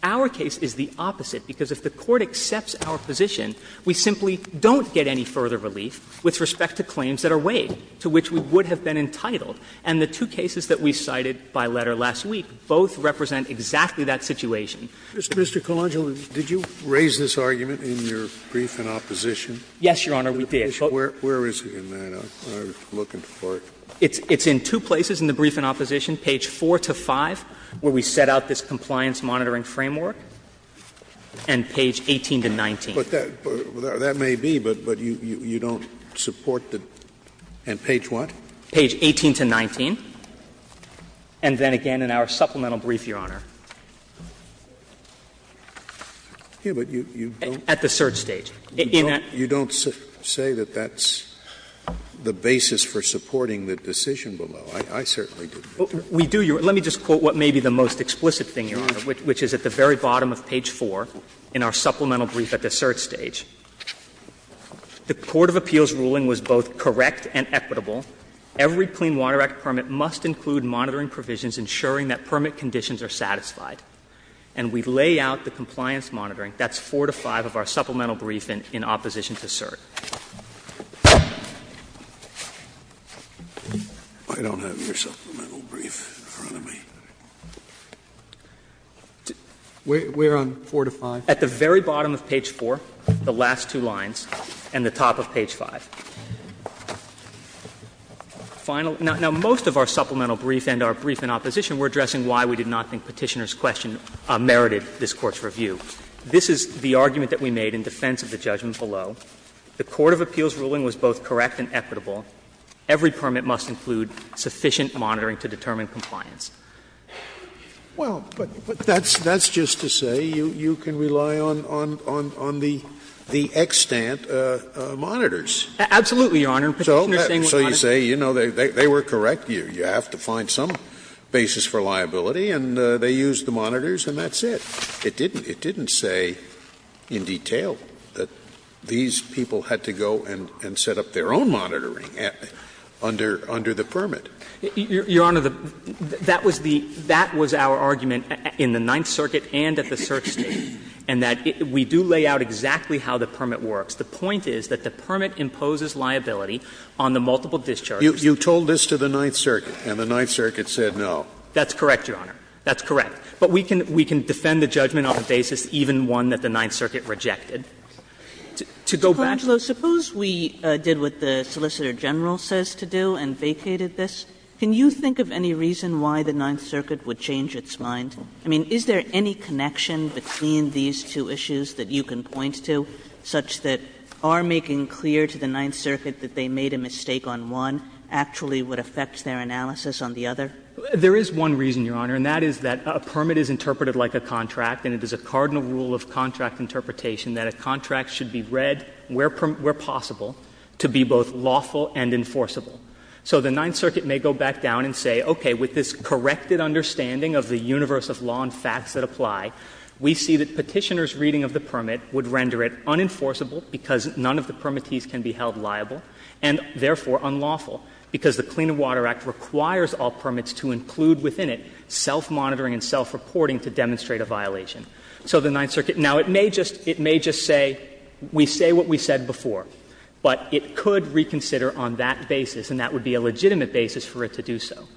Our case is the opposite, because if the Court accepts our position, we simply don't get any further relief with respect to claims that are waived, to which we would have been entitled. And the two cases that we cited by letter last week both represent exactly that situation. Scalia. Mr. Colangelo, did you raise this argument in your brief in opposition? Yes, Your Honor, we did. Where is it in that? I'm looking for it. It's in two places in the brief in opposition, page 4 to 5, where we set out this compliance monitoring framework, and page 18 to 19. But that may be, but you don't support the – and page what? Page 18 to 19. And then again in our supplemental brief, Your Honor. Here, but you don't? At the search stage. You don't say that that's the basis for supporting the decision below. I certainly didn't. We do. Let me just quote what may be the most explicit thing, Your Honor, which is at the very bottom of page 4 in our supplemental brief at the search stage. The court of appeals ruling was both correct and equitable. Every Clean Water Act permit must include monitoring provisions ensuring that permit conditions are satisfied. And we lay out the compliance monitoring. That's 4 to 5 of our supplemental brief in opposition to cert. I don't have your supplemental brief in front of me. We're on 4 to 5? At the very bottom of page 4, the last two lines, and the top of page 5. Final – now, most of our supplemental brief and our brief in opposition were addressing why we did not think Petitioner's question merited this Court's review. This is the argument that we made in defense of the judgment below. The court of appeals ruling was both correct and equitable. Every permit must include sufficient monitoring to determine compliance. Scalia. Well, but that's just to say you can rely on the extant monitors. Absolutely, Your Honor. So you say, you know, they were correct. You have to find some basis for liability, and they used the monitors and that's it. It didn't. It didn't say in detail that these people had to go and set up their own monitoring under the permit. Your Honor, that was the – that was our argument in the Ninth Circuit and at the search state, and that we do lay out exactly how the permit works. The point is that the permit imposes liability on the multiple discharges. You told this to the Ninth Circuit, and the Ninth Circuit said no. That's correct, Your Honor. That's correct. But we can – we can defend the judgment on the basis even one that the Ninth Circuit rejected. To go back to the Court of Appeals ruling, we have a different argument. Suppose we did what the Solicitor General says to do and vacated this. Can you think of any reason why the Ninth Circuit would change its mind? I mean, is there any connection between these two issues that you can point to such that are making clear to the Ninth Circuit that they made a mistake on one actually would affect their analysis on the other? There is one reason, Your Honor, and that is that a permit is interpreted like a contract, and it is a cardinal rule of contract interpretation that a contract should be read where possible to be both lawful and enforceable. So the Ninth Circuit may go back down and say, okay, with this corrected understanding of the universe of law and facts that apply, we see that Petitioner's reading of the permit would render it unenforceable because none of the permittees can be held liable, and therefore unlawful, because the Clean Water Act requires all permits to include within it self-monitoring and self-reporting to demonstrate a violation. So the Ninth Circuit now, it may just say, we say what we said before, but it could reconsider on that basis, and that would be a legitimate basis for it to do so.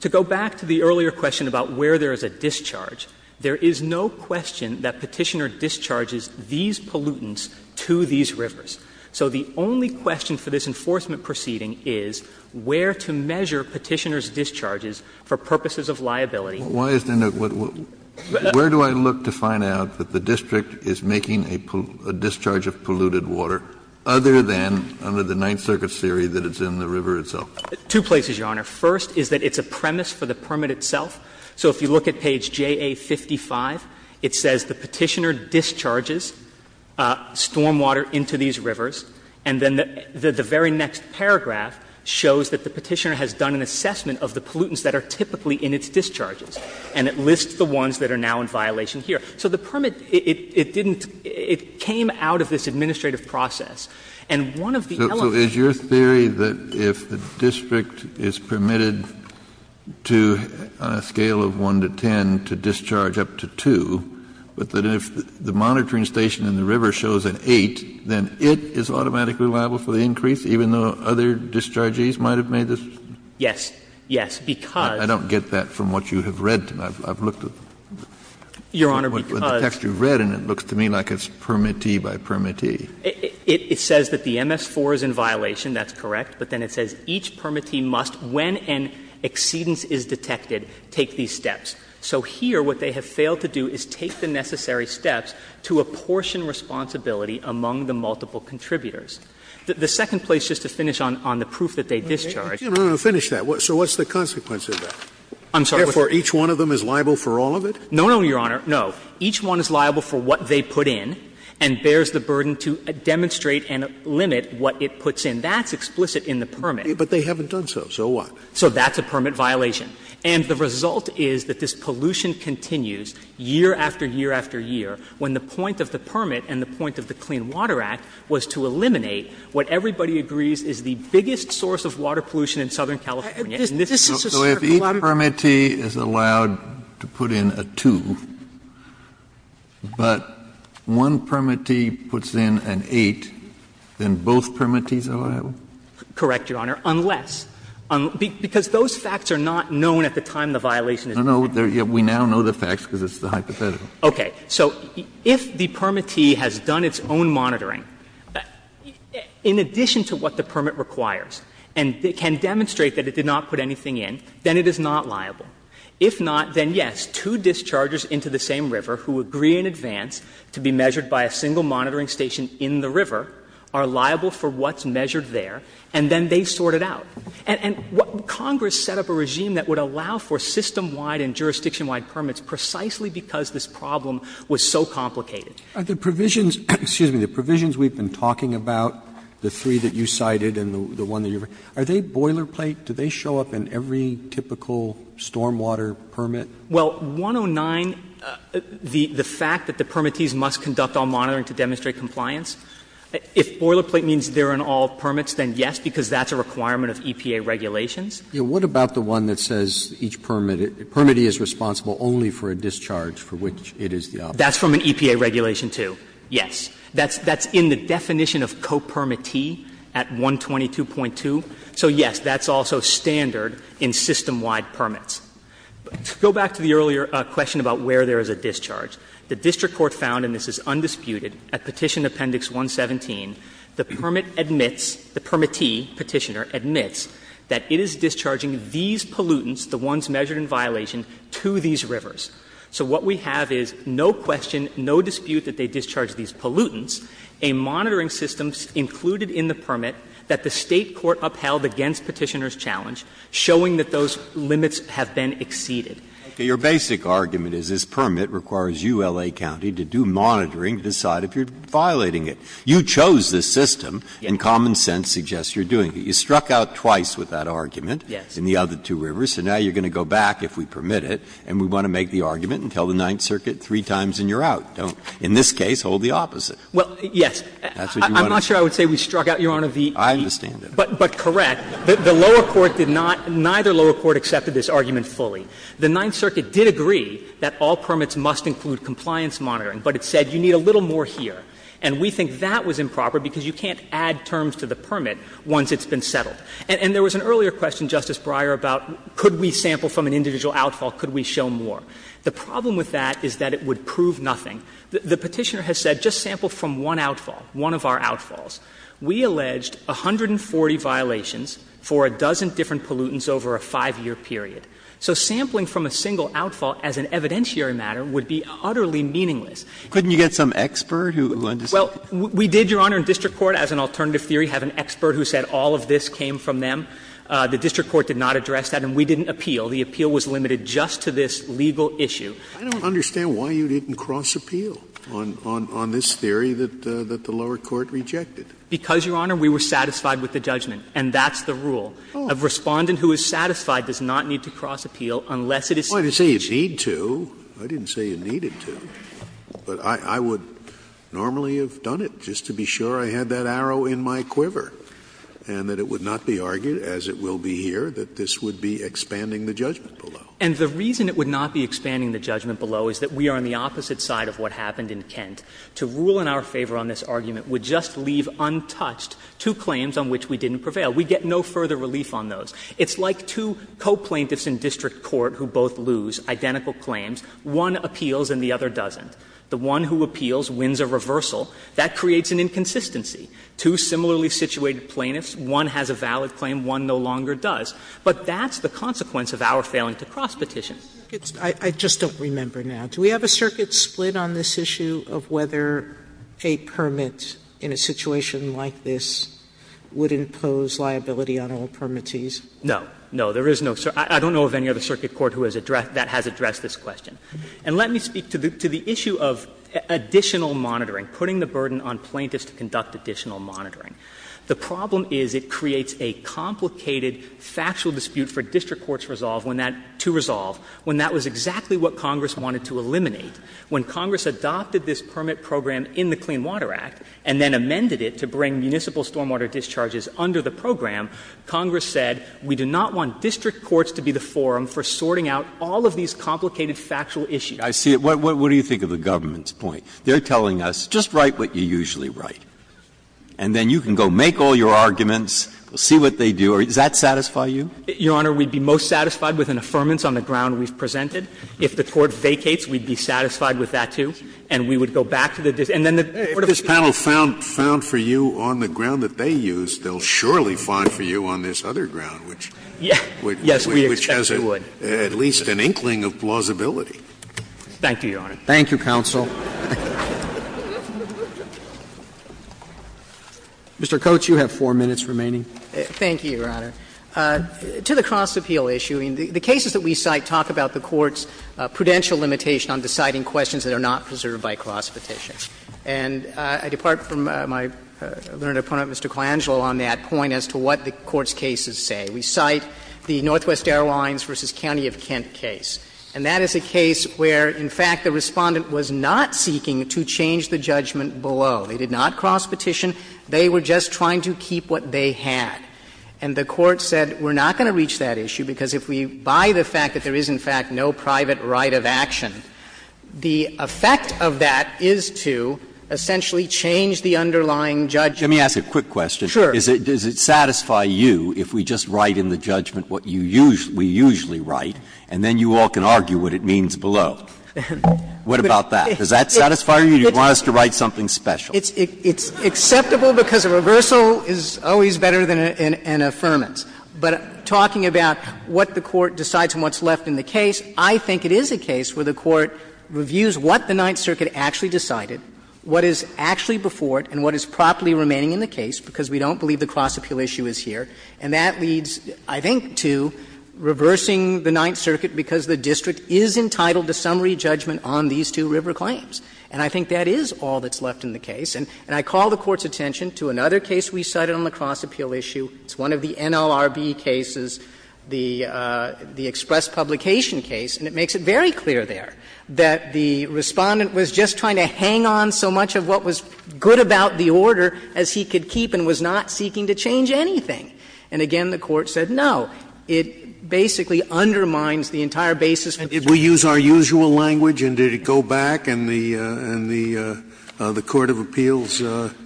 To go back to the earlier question about where there is a discharge, there is no question that Petitioner discharges these pollutants to these rivers. So the only question for this enforcement proceeding is where to measure Petitioner's discharges for purposes of liability. Kennedy, where do I look to find out that the district is making a discharge of polluted water other than under the Ninth Circuit's theory that it's in the river itself? Two places, Your Honor. First is that it's a premise for the permit itself. So if you look at page JA55, it says the Petitioner discharges stormwater into these rivers, and then the very next paragraph shows that the Petitioner has done an assessment of the pollutants that are typically in its discharges, and it lists the ones that are now in violation here. So the permit, it didn't — it came out of this administrative process, and one of the elements of this process is that if the district is permitted to, on a scale of 1 to 10, to discharge up to 2, but that if the monitoring station in the river shows an 8, then it is automatically liable for the increase, even though other discharges might have made this? Yes. Yes, because — I don't get that from what you have read. I've looked at the text you've read, and it looks to me like it's permittee by permittee. It says that the MS-4 is in violation, that's correct, but then it says each permittee must, when an exceedance is detected, take these steps. So here, what they have failed to do is take the necessary steps to apportion responsibility among the multiple contributors. The second place, just to finish on the proof that they discharged. No, no, no, finish that. So what's the consequence of that? I'm sorry, what's that? Therefore, each one of them is liable for all of it? No, no, Your Honor, no. Each one is liable for what they put in and bears the burden to demonstrate and limit what it puts in. That's explicit in the permit. But they haven't done so. So what? So that's a permit violation. And the result is that this pollution continues year after year after year, when the point of the permit and the point of the Clean Water Act was to eliminate what everybody agrees is the biggest source of water pollution in Southern California. And this is a circle out of it. So if each permittee is allowed to put in a 2, but one permittee puts in an 8, then both permittees are liable? Correct, Your Honor, unless. Because those facts are not known at the time the violation is being done. No, no, we now know the facts, because it's the hypothetical. Okay. So if the permittee has done its own monitoring, in addition to what the permit requires and can demonstrate that it did not put anything in, then it is not liable. If not, then yes, two dischargers into the same river who agree in advance to be measured by a single monitoring station in the river are liable for what's measured there, and then they sort it out. And Congress set up a regime that would allow for system-wide and jurisdiction-wide permits precisely because this problem was so complicated. Are the provisions we've been talking about, the three that you cited and the one that you've written, are they boilerplate? Do they show up in every typical stormwater permit? Well, 109, the fact that the permittees must conduct all monitoring to demonstrate compliance, if boilerplate means they're in all permits, then yes, because that's a requirement of EPA regulations. What about the one that says each permittee is responsible only for a discharge for which it is the opposite? That's from an EPA regulation, too, yes. That's in the definition of co-permittee at 122.2. So yes, that's also standard in system-wide permits. To go back to the earlier question about where there is a discharge, the district court found, and this is undisputed, at Petition Appendix 117, the permit admits the permittee, Petitioner, admits that it is discharging these pollutants, the ones measured in violation, to these rivers. So what we have is no question, no dispute that they discharged these pollutants, a monitoring system included in the permit that the State court upheld against Petitioner's challenge, showing that those limits have been exceeded. Your basic argument is this permit requires ULA County to do monitoring to decide if you're violating it. You chose this system, and common sense suggests you're doing it. You struck out twice with that argument in the other two rivers, and now you're going to go back, if we permit it, and we want to make the argument and tell the Ninth Circuit three times and you're out. In this case, hold the opposite. That's what you want to do. I'm not sure I would say we struck out, Your Honor, the EPA. I understand that. But correct. The lower court did not, neither lower court accepted this argument fully. The Ninth Circuit did agree that all permits must include compliance monitoring, but it said you need a little more here. And we think that was improper because you can't add terms to the permit once it's been settled. And there was an earlier question, Justice Breyer, about could we sample from an individual outfall, could we show more. The problem with that is that it would prove nothing. The Petitioner has said just sample from one outfall, one of our outfalls. We alleged 140 violations for a dozen different pollutants over a 5-year period. So sampling from a single outfall as an evidentiary matter would be utterly meaningless. Couldn't you get some expert who understood? Well, we did, Your Honor, in district court, as an alternative theory, have an expert who said all of this came from them. The district court did not address that, and we didn't appeal. The appeal was limited just to this legal issue. I don't understand why you didn't cross-appeal on this theory that the lower court rejected. Because, Your Honor, we were satisfied with the judgment, and that's the rule. A Respondent who is satisfied does not need to cross-appeal unless it is stated in the statute. I didn't say you need to. I didn't say you needed to. But I would normally have done it, just to be sure I had that arrow in my quiver, and that it would not be argued, as it will be here, that this would be expanding the judgment below. And the reason it would not be expanding the judgment below is that we are on the opposite side of what happened in Kent. To rule in our favor on this argument would just leave untouched two claims on which we didn't prevail. We get no further relief on those. It's like two coplaintiffs in district court who both lose identical claims. One appeals and the other doesn't. The one who appeals wins a reversal. That creates an inconsistency. Two similarly situated plaintiffs, one has a valid claim, one no longer does. But that's the consequence of our failing to cross-petition. Sotomayor, I just don't remember now. Do we have a circuit split on this issue of whether a permit in a situation like this would impose liability on all permittees? No. No, there is no circuit. I don't know of any other circuit court who has addressed this question. And let me speak to the issue of additional monitoring, putting the burden on plaintiffs to conduct additional monitoring. The problem is it creates a complicated factual dispute for district courts to resolve when that was exactly what Congress wanted to eliminate. When Congress adopted this permit program in the Clean Water Act and then amended it to bring municipal stormwater discharges under the program, Congress said, we do not want district courts to be the forum for sorting out all of these complicated factual issues. I see it. What do you think of the government's point? They're telling us, just write what you usually write, and then you can go make all your arguments, we'll see what they do, or does that satisfy you? Your Honor, we'd be most satisfied with an affirmance on the ground we've presented. If the Court vacates, we'd be satisfied with that, too, and we would go back to the district. And then the Court of Appeals would say, well, if this panel found for you on the ground that they used, they'll surely find for you on this other ground. Which has at least an inkling of plausibility. Thank you, Your Honor. Thank you, counsel. Mr. Coates, you have 4 minutes remaining. Thank you, Your Honor. To the cross-appeal issue, the cases that we cite talk about the court's prudential limitation on deciding questions that are not preserved by cross-petition. And I depart from my learned opponent, Mr. Colangelo, on that point as to what the case is that we cite, the Northwest Airlines v. County of Kent case. And that is a case where, in fact, the Respondent was not seeking to change the judgment below. They did not cross-petition. They were just trying to keep what they had. And the Court said, we're not going to reach that issue, because if we buy the fact that there is, in fact, no private right of action, the effect of that is to essentially change the underlying judgment. Let me ask a quick question. Sure. Does it satisfy you if we just write in the judgment what you usually write, and then you all can argue what it means below? What about that? Does that satisfy you? Or do you want us to write something special? It's acceptable because a reversal is always better than an affirmance. But talking about what the Court decides and what's left in the case, I think it is a case where the Court reviews what the Ninth Circuit actually decided, what is actually before it, and what is properly remaining in the case, because we don't believe the cross-appeal issue is here. And that leads, I think, to reversing the Ninth Circuit because the district is entitled to summary judgment on these two River claims. And I think that is all that's left in the case. And I call the Court's attention to another case we cited on the cross-appeal issue. It's one of the NLRB cases, the express publication case. And it makes it very clear there that the Respondent was just trying to hang on so long as he could to what was good about the order as he could keep and was not seeking to change anything. And again, the Court said no. It basically undermines the entire basis of the district. Scalia. And did we use our usual language and did it go back and the Court of Appeals considered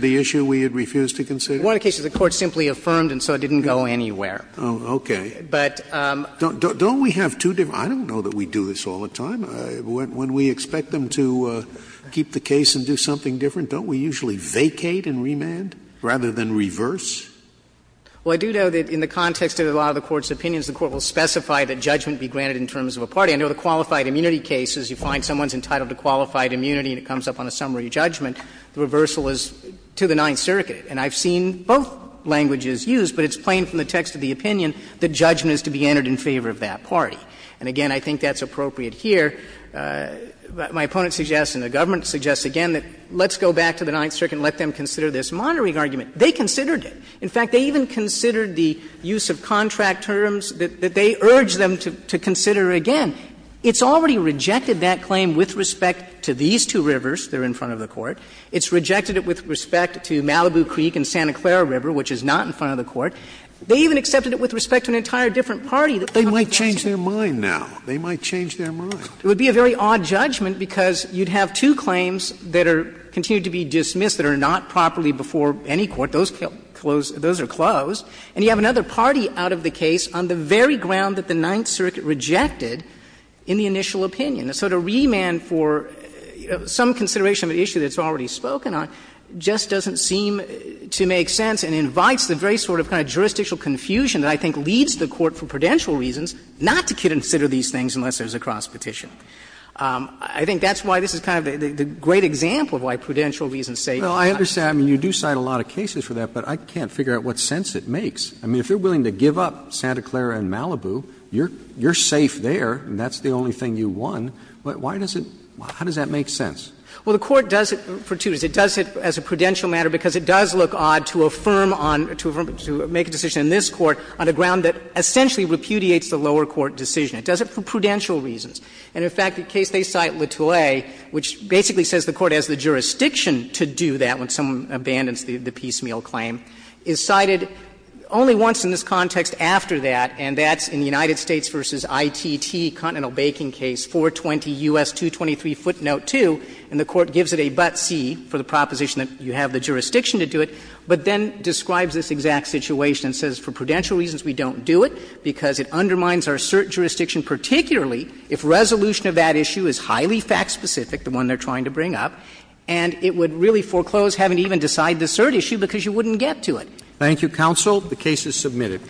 the issue we had refused to consider? One of the cases the Court simply affirmed and so it didn't go anywhere. Okay. But don't we have two different – I don't know that we do this all the time. When we expect them to keep the case and do something different, don't we usually vacate and remand rather than reverse? Well, I do know that in the context of a lot of the Court's opinions, the Court will specify that judgment be granted in terms of a party. I know the qualified immunity case is you find someone is entitled to qualified immunity and it comes up on a summary judgment. The reversal is to the Ninth Circuit. And I've seen both languages used, but it's plain from the text of the opinion that judgment is to be entered in favor of that party. And again, I think that's appropriate here. My opponent suggests and the government suggests again that let's go back to the Ninth Circuit and let them consider this monitoring argument. They considered it. In fact, they even considered the use of contract terms that they urged them to consider again. It's already rejected that claim with respect to these two rivers that are in front of the Court. It's rejected it with respect to Malibu Creek and Santa Clara River, which is not in front of the Court. They even accepted it with respect to an entire different party that's on the Court. Scalia, they might change their mind now. They might change their mind. It would be a very odd judgment because you'd have two claims that are going to be dismissed that are not properly before any court. Those are closed. And you have another party out of the case on the very ground that the Ninth Circuit rejected in the initial opinion. So to remand for some consideration of an issue that's already spoken on just doesn't seem to make sense and invites the very sort of kind of jurisdictional confusion that I think leads the Court, for prudential reasons, not to consider these things unless there's a cross-petition. I think that's why this is kind of the great example of why prudential reasons say you're not. Roberts, I mean, you do cite a lot of cases for that, but I can't figure out what sense it makes. I mean, if you're willing to give up Santa Clara and Malibu, you're safe there and that's the only thing you won. Why does it – how does that make sense? Well, the Court does it for two reasons. It does it as a prudential matter because it does look odd to affirm on – to make a decision in this Court on a ground that essentially repudiates the lower court decision. It does it for prudential reasons. And in fact, the case they cite, Le Tollet, which basically says the Court has the jurisdiction to do that when someone abandons the piecemeal claim, is cited only once in this context after that, and that's in the United States v. ITT, Continental Baking Case, 420 U.S. 223 footnote 2, and the Court gives it a but-see for the proposition that you have the jurisdiction to do it, but then describes this exact situation and says for prudential reasons we don't do it because it undermines our cert jurisdiction, particularly if resolution of that issue is highly fact-specific, the one they're trying to bring up, and it would really foreclose having to even decide the cert issue because you wouldn't get to it. Thank you, counsel. The case is submitted.